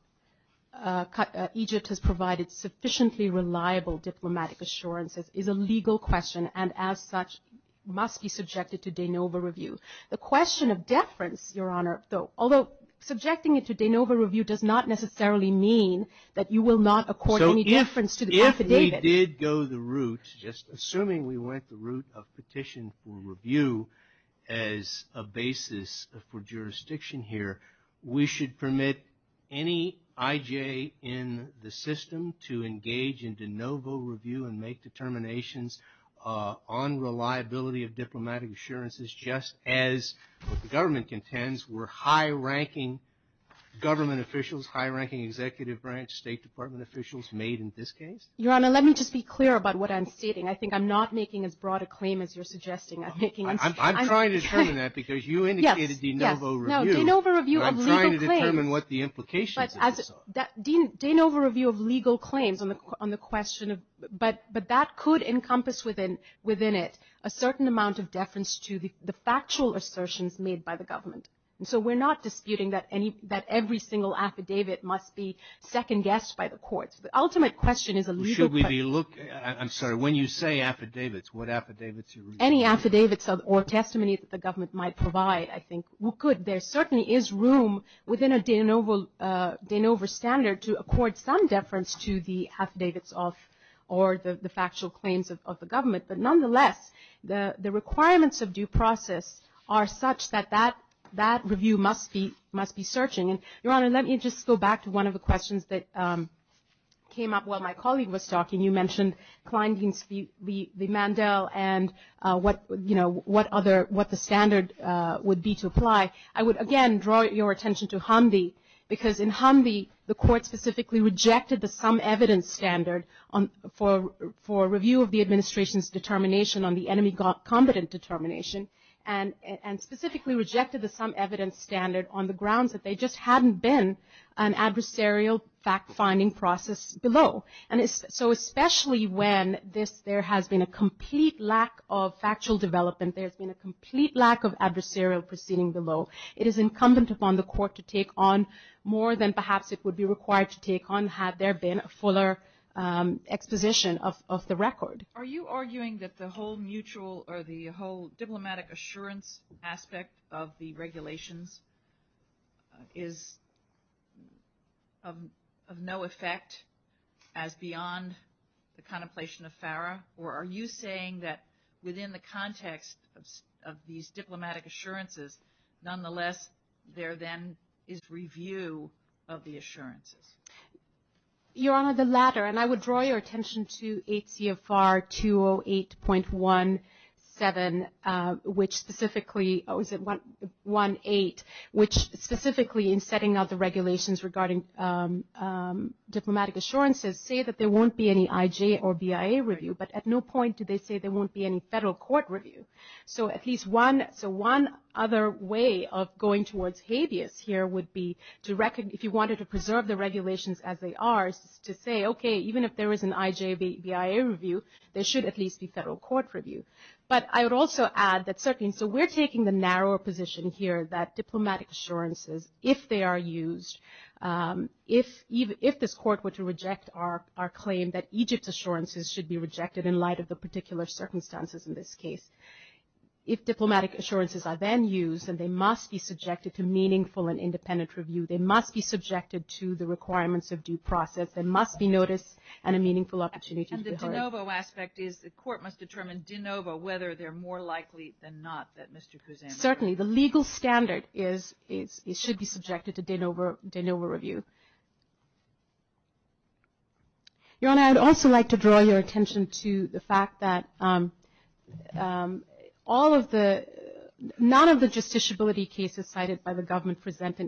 Egypt has provided sufficiently reliable diplomatic assurances is a legal question and, as such, must be subjected to de novo review. The question of deference, Your Honor, although subjecting it to de novo review does not necessarily mean that you will not accord any deference to the author David. If we did go the route, just assuming we went the route of petition for review as a basis for jurisdiction here, we should permit any IJ in the system to engage in de novo review and make determinations on reliability of diplomatic assurances, just as the government contends were high-ranking government officials, high-ranking executive branch, State Department officials made in this case? Your Honor, let me just be clear about what I'm stating. I think I'm not making as broad a claim as you're suggesting. I'm trying to determine that because you indicated de novo review, and I'm trying to determine what the implications of this are. De novo review of legal claims, but that could encompass within it a certain amount of deference to the factual assertions made by the government. So we're not disputing that every single affidavit must be second-guessed by the courts. The ultimate question is a legal question. I'm sorry. When you say affidavits, what affidavits are you referring to? Any affidavits or testimonies that the government might provide, I think. There certainly is room within a de novo standard to accord some deference to the affidavits or the factual claims of the government. But nonetheless, the requirements of due process are such that that review must be searching. Your Honor, let me just go back to one of the questions that came up while my colleague was talking. You mentioned Kleindienst v. Mandel and what the standard would be to apply. I would, again, draw your attention to Humvee because in Humvee the court specifically rejected the some evidence standard for review of the an adversarial fact-finding process below. And so especially when there has been a complete lack of factual development, there's been a complete lack of adversarial proceeding below, it is incumbent upon the court to take on more than perhaps it would be required to take on had there been a fuller exposition of the record. Are you arguing that the whole diplomatic assurance aspect of the regulations is of no effect as beyond the contemplation of FARA? Or are you saying that within the context of these diplomatic assurances, nonetheless, there then is review of the assurances? Your Honor, the latter. And I would draw your attention to ACFR 208.18, which specifically in setting up the regulations regarding diplomatic assurances, say that there won't be any IJ or BIA review. But at no point do they say there won't be any federal court review. So at least one other way of going towards habeas here would be if you wanted to preserve the regulations as they are, to say, okay, even if there is an IJ, BIA review, there should at least be federal court review. But I would also add that we're taking the narrower position here that diplomatic assurances, if they are used, if this court were to reject our claim that IJS assurances should be rejected in light of the particular circumstances in this case, if diplomatic assurances are then used, then they must be subjected to meaningful and independent review. They must be subjected to the requirements of due process. They must be noticed and a meaningful opportunity to be heard. And the de novo aspect is the court must determine de novo whether they're more likely than not that Mr. Kuzan is. And certainly the legal standard is it should be subjected to de novo review. Your Honor, I would also like to draw your attention to the fact that all of the – none of the justiciability cases cited by the government present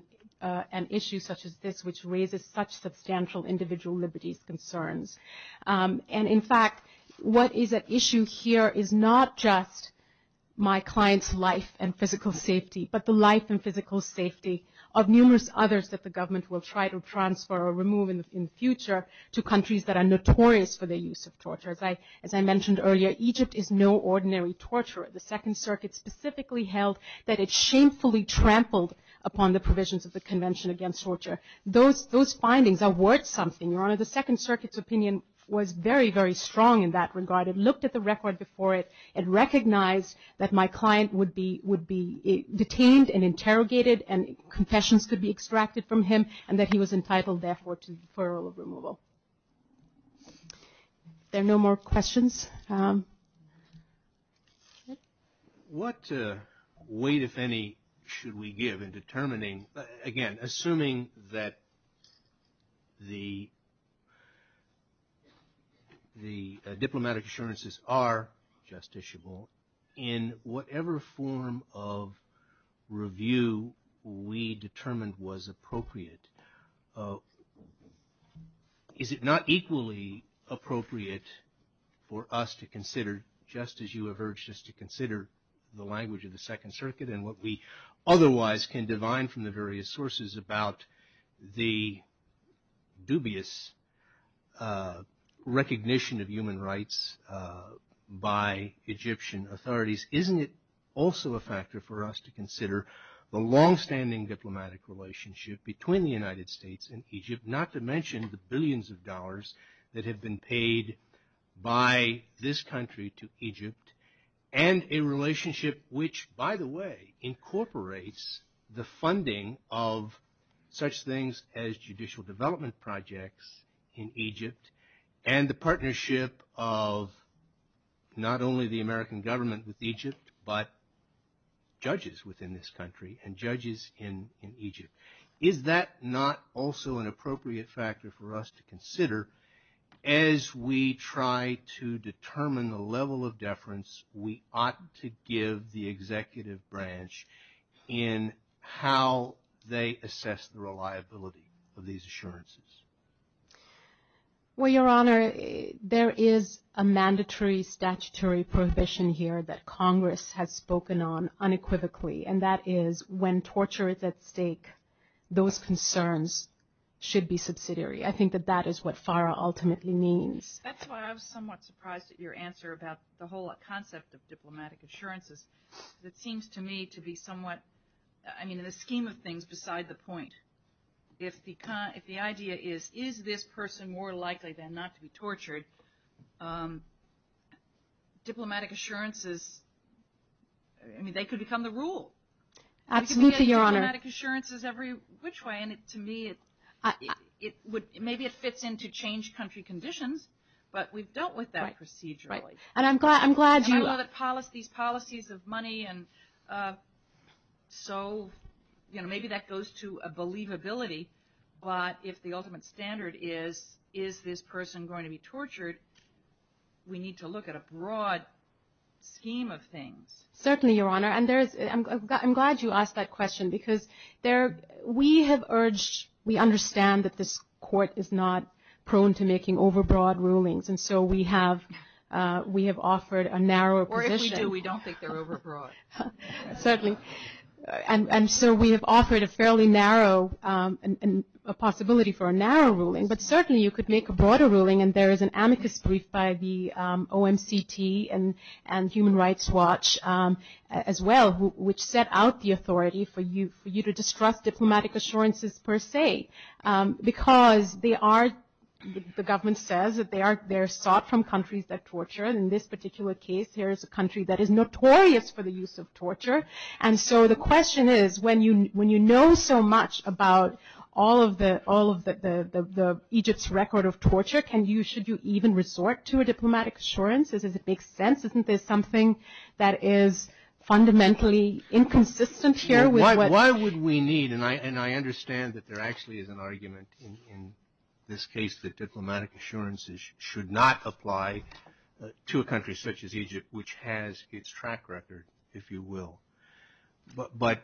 an issue such as this, which raises such substantial individual liberties concerns. And in fact, what is at issue here is not just my client's life and physical safety, but the life and physical safety of numerous others that the government will try to transfer or remove in the future to countries that are notorious for their use of torture. As I mentioned earlier, Egypt is no ordinary torturer. The Second Circuit specifically held that it shamefully trampled upon the provisions of the Convention Against Torture. Those findings are worth something, Your Honor. The Second Circuit's opinion was very, very strong in that regard. It looked at the record before it and recognized that my client would be detained and interrogated and confessions could be extracted from him and that he was entitled, therefore, to the deferral of removal. Are there no more questions? All right. What weight, if any, should we give in determining – again, assuming that the diplomatic assurances are justiciable, in whatever form of review we determined was appropriate, is it not equally appropriate for us to consider, just as you have urged us to consider, the language of the Second Circuit and what we otherwise can divine from the various sources about the dubious recognition of human rights by Egyptian authorities, isn't it also a factor for us to consider the longstanding diplomatic relationship between the United States and Egypt, not to mention the billions of dollars that have been paid by this country to Egypt and a relationship which, by the way, incorporates the funding of such things as judicial development projects in Egypt and the partnership of not only the American government with Egypt but judges within this country and judges in Egypt? Is that not also an appropriate factor for us to consider as we try to determine the level of deference we ought to give the executive branch in how they assess the reliability of these assurances? Well, Your Honor, there is a mandatory statutory provision here that Congress has spoken on unequivocally, and that is when torture is at stake, those concerns should be subsidiary. I think that that is what FARA ultimately means. That's why I was somewhat surprised at your answer about the whole concept of diplomatic assurances. It seems to me to be somewhat, I mean, in a scheme of things, beside the point. If the idea is, is this person more likely than not to be tortured, diplomatic assurances, I mean, they could become the rule. Absolutely, Your Honor. Diplomatic assurances every which way, and to me it would – maybe it fits in to change country conditions, but we've dealt with that procedurally. And I'm glad you – We've dealt with policies, policies of money, and so maybe that goes to a believability, but if the ultimate standard is, is this person going to be tortured, we need to look at a broad scheme of things. Certainly, Your Honor, and I'm glad you asked that question because we have urged – we understand that this court is not prone to making overbroad rulings, and so we have offered a narrow provision. Or if we do, we don't think they're overbroad. Certainly. And so we have offered a fairly narrow possibility for a narrow ruling, but certainly you could make a broader ruling, and there is an amicus brief by the OMCT and Human Rights Watch as well, which set out the authority for you to distrust diplomatic assurances per se, because they are – the government says that they're sought from countries that torture, and in this particular case, there is a country that is notorious for the use of torture. And so the question is, when you know so much about all of the Egypt's record of torture, can you – should you even resort to a diplomatic assurance? Does it make sense? Isn't there something that is fundamentally inconsistent here? Why would we need – and I understand that there actually is an argument in this case that diplomatic assurances should not apply to a country such as Egypt, which has its track record, if you will. But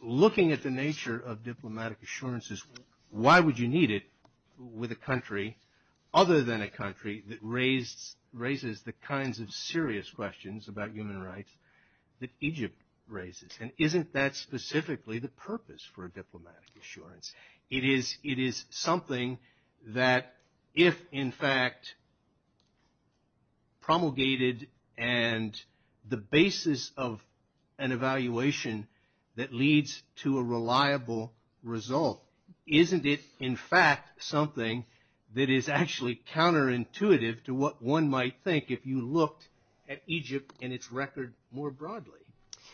looking at the nature of diplomatic assurances, why would you need it with a country other than a country that raises the kinds of serious questions about human rights that Egypt raises? And isn't that specifically the purpose for a diplomatic assurance? It is something that if in fact promulgated, and the basis of an evaluation that leads to a reliable result, isn't it in fact something that is actually counterintuitive to what one might think if you looked at Egypt and its record more broadly?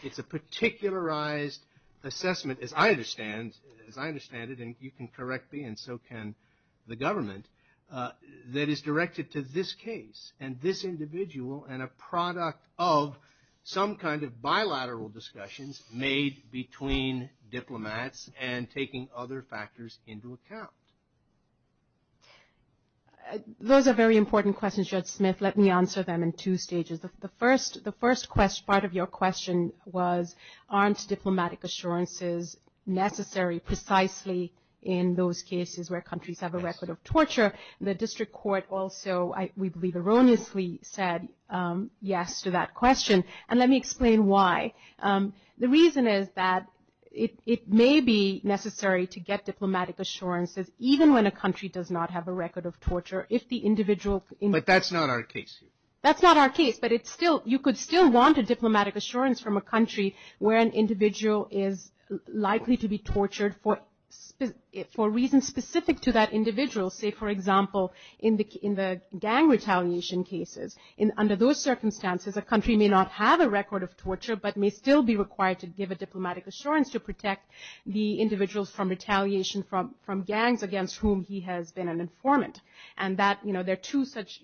It's a particularized assessment, as I understand it, and you can correct me and so can the government, that is directed to this case and this individual and a product of some kind of bilateral discussions made between diplomats and taking other factors into account. Those are very important questions, Judge Smith. Let me answer them in two stages. The first part of your question was aren't diplomatic assurances necessary precisely in those cases where countries have a record of torture? The district court also, I believe erroneously, said yes to that question, and let me explain why. The reason is that it may be necessary to get diplomatic assurances even when a country does not have a record of torture. But that's not our case. That's not our case, but you could still want a diplomatic assurance from a country where an individual is likely to be tortured for reasons specific to that individual. Say, for example, in the gang retaliation cases, under those circumstances, a country may not have a record of torture but may still be required to give a diplomatic assurance to protect the individuals from retaliation from gangs against whom he has been an informant. And there are two such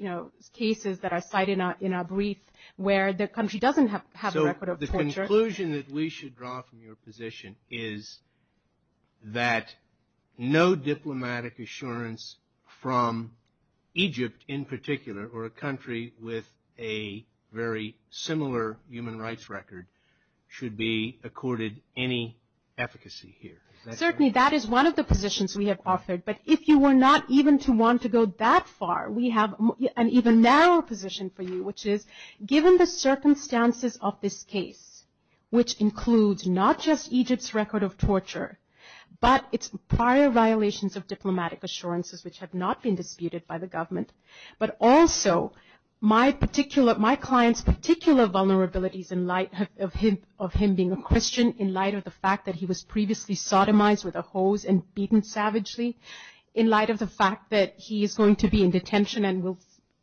cases that are cited in our brief where the country doesn't have a record of torture. So the conclusion that we should draw from your position is that no diplomatic assurance from Egypt in particular or a country with a very similar human rights record should be accorded any efficacy here. Certainly, that is one of the positions we have offered. But if you were not even to want to go that far, we have an even narrower position for you, which is given the circumstances of this case, which includes not just Egypt's record of torture but its prior violations of diplomatic assurances, which have not been disputed by the government, but also my client's particular vulnerabilities in light of him being a Christian, in light of the fact that he was previously sodomized with a hose and beaten savagely, in light of the fact that he is going to be in detention and will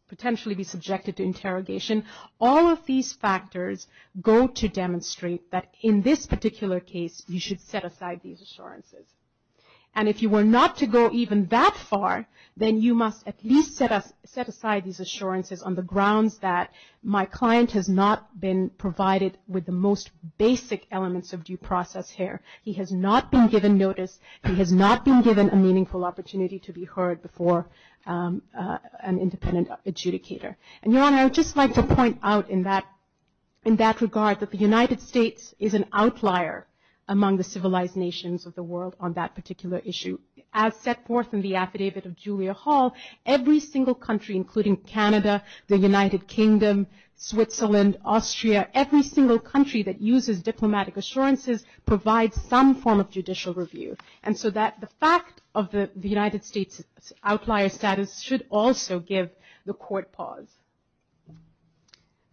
potentially be subjected to interrogation. All of these factors go to demonstrate that in this particular case you should set aside these assurances. And if you were not to go even that far, then you must at least set aside these assurances on the grounds that my client has not been provided with the most basic elements of due process here. He has not been given notice. He has not been given a meaningful opportunity to be heard before an independent adjudicator. And, Your Honor, I would just like to point out in that regard that the United States is an outlier among the civilized nations of the world on that particular issue. As set forth in the affidavit of Julia Hall, every single country, including Canada, the United Kingdom, Switzerland, Austria, every single country that uses diplomatic assurances provides some form of judicial review. And so the fact of the United States' outlier status should also give the court pause.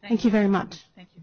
Thank you very much. Thank you.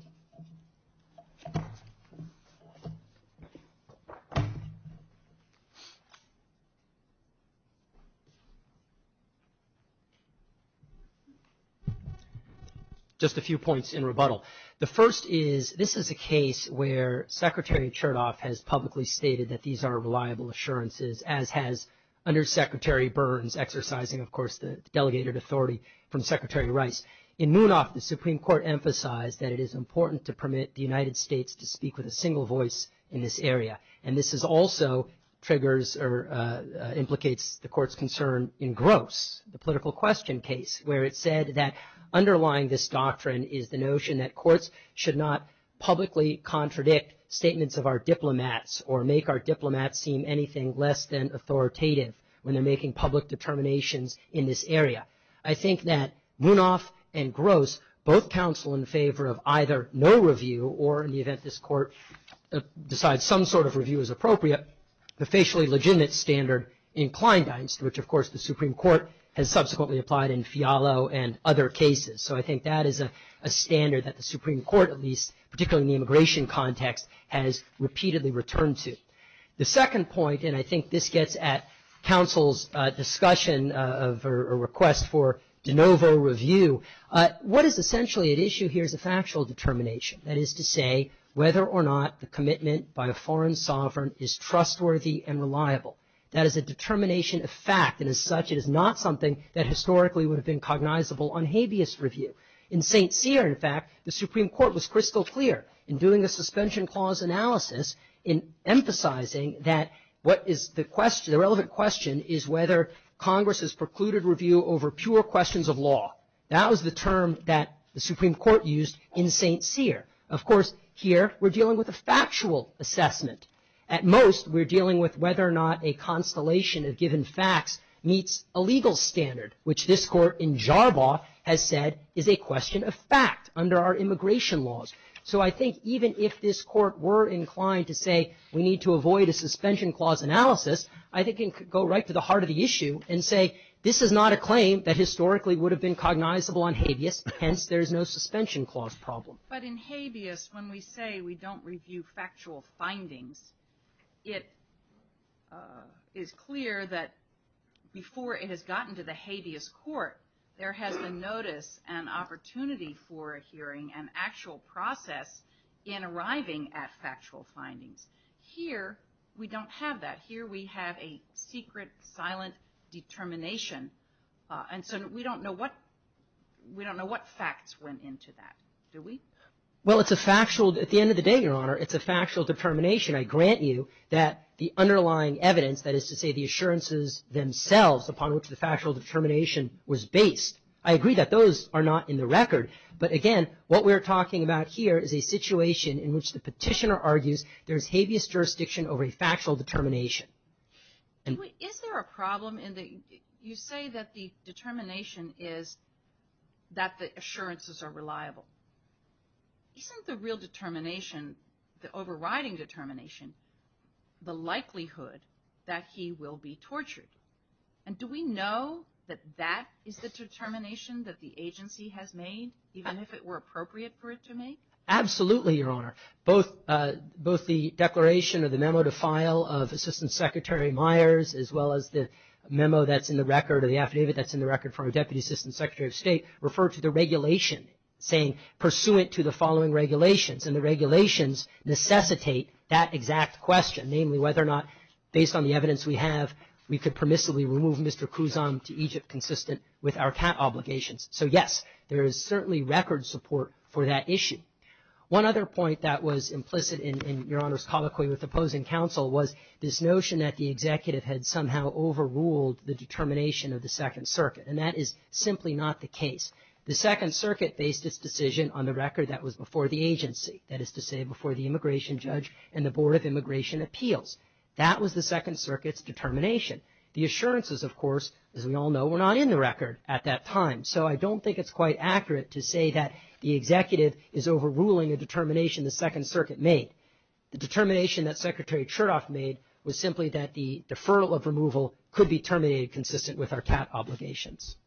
Just a few points in rebuttal. The first is this is a case where Secretary Chertoff has publicly stated that these are reliable assurances, as has Undersecretary Burns, exercising, of course, the delegated authority from Secretary Rice. In Munoz, the Supreme Court emphasized that it is important to permit the United States to speak with a single voice in this area. And this is also triggers or implicates the court's concern in Gross, the political question case, where it said that underlying this doctrine is the notion that courts should not publicly contradict statements of our diplomats or make our diplomats seem anything less than authoritative when they're making public determinations in this area. I think that Munoz and Gross both counsel in favor of either no review, or in the event this court decides some sort of review is appropriate, the facially legitimate standard in Kleindienst, which, of course, the Supreme Court has subsequently applied in Fialo and other cases. So I think that is a standard that the Supreme Court, at least, particularly in the immigration context, has repeatedly returned to. The second point, and I think this gets at counsel's discussion of a request for de novo review, what is essentially at issue here is a factual determination, that is to say whether or not the commitment by a foreign sovereign is trustworthy and reliable. That is a determination of fact and, as such, it is not something that historically would have been cognizable on habeas review. In St. Cyr, in fact, the Supreme Court was crystal clear in doing a suspension clause analysis in emphasizing that what is the question, the relevant question, is whether Congress has precluded review over pure questions of law. That was the term that the Supreme Court used in St. Cyr. Of course, here we're dealing with a factual assessment. At most, we're dealing with whether or not a constellation of given facts meets a legal standard, which this court in Jarbaugh has said is a question of fact under our immigration laws. So I think even if this court were inclined to say we need to avoid a suspension clause analysis, I think it could go right to the heart of the issue and say this is not a claim that historically would have been cognizable on habeas, hence there's no suspension clause problem. But in habeas, when we say we don't review factual findings, it is clear that before it had gotten to the habeas court, there had been notice and opportunity for a hearing and actual process in arriving at factual findings. Here, we don't have that. Here we have a secret, silent determination, and so we don't know what facts went into that, do we? Well, at the end of the day, Your Honor, it's a factual determination. I grant you that the underlying evidence, that is to say the assurances themselves, upon which the factual determination was based, I agree that those are not in the record. But again, what we're talking about here is a situation in which the petitioner argues there's habeas jurisdiction over a factual determination. Is there a problem in that you say that the determination is that the assurances are reliable? Isn't the real determination, the overriding determination, the likelihood that he will be tortured? And do we know that that is the determination that the agency has made, even if it were appropriate for it to be made? Absolutely, Your Honor. Both the declaration or the memo to file of Assistant Secretary Myers, as well as the memo that's in the record or the affidavit that's in the record for our Deputy Assistant Secretary of State, refer to the regulation, saying, pursuant to the following regulations. And the regulations necessitate that exact question, namely whether or not, based on the evidence we have, we could permissibly remove Mr. Khuzam to Egypt consistent with our patent obligations. So, yes, there is certainly record support for that issue. One other point that was implicit in Your Honor's colloquy with opposing counsel was this notion that the executive had somehow overruled the determination of the Second Circuit. And that is simply not the case. The Second Circuit based its decision on the record that was before the agency, that is to say before the immigration judge and the Board of Immigration Appeals. That was the Second Circuit's determination. The assurances, of course, as we all know, were not in the record at that time. So I don't think it's quite accurate to say that the executive is overruling a determination the Second Circuit made. The determination that Secretary Chertoff made was simply that the deferral of removal could be terminated consistent with our patent obligations.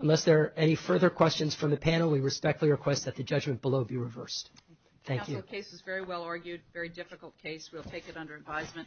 Unless there are any further questions from the panel, we respectfully request that the judgment below be reversed. Thank you. The case is very well argued, very difficult case. We'll take it under advisement.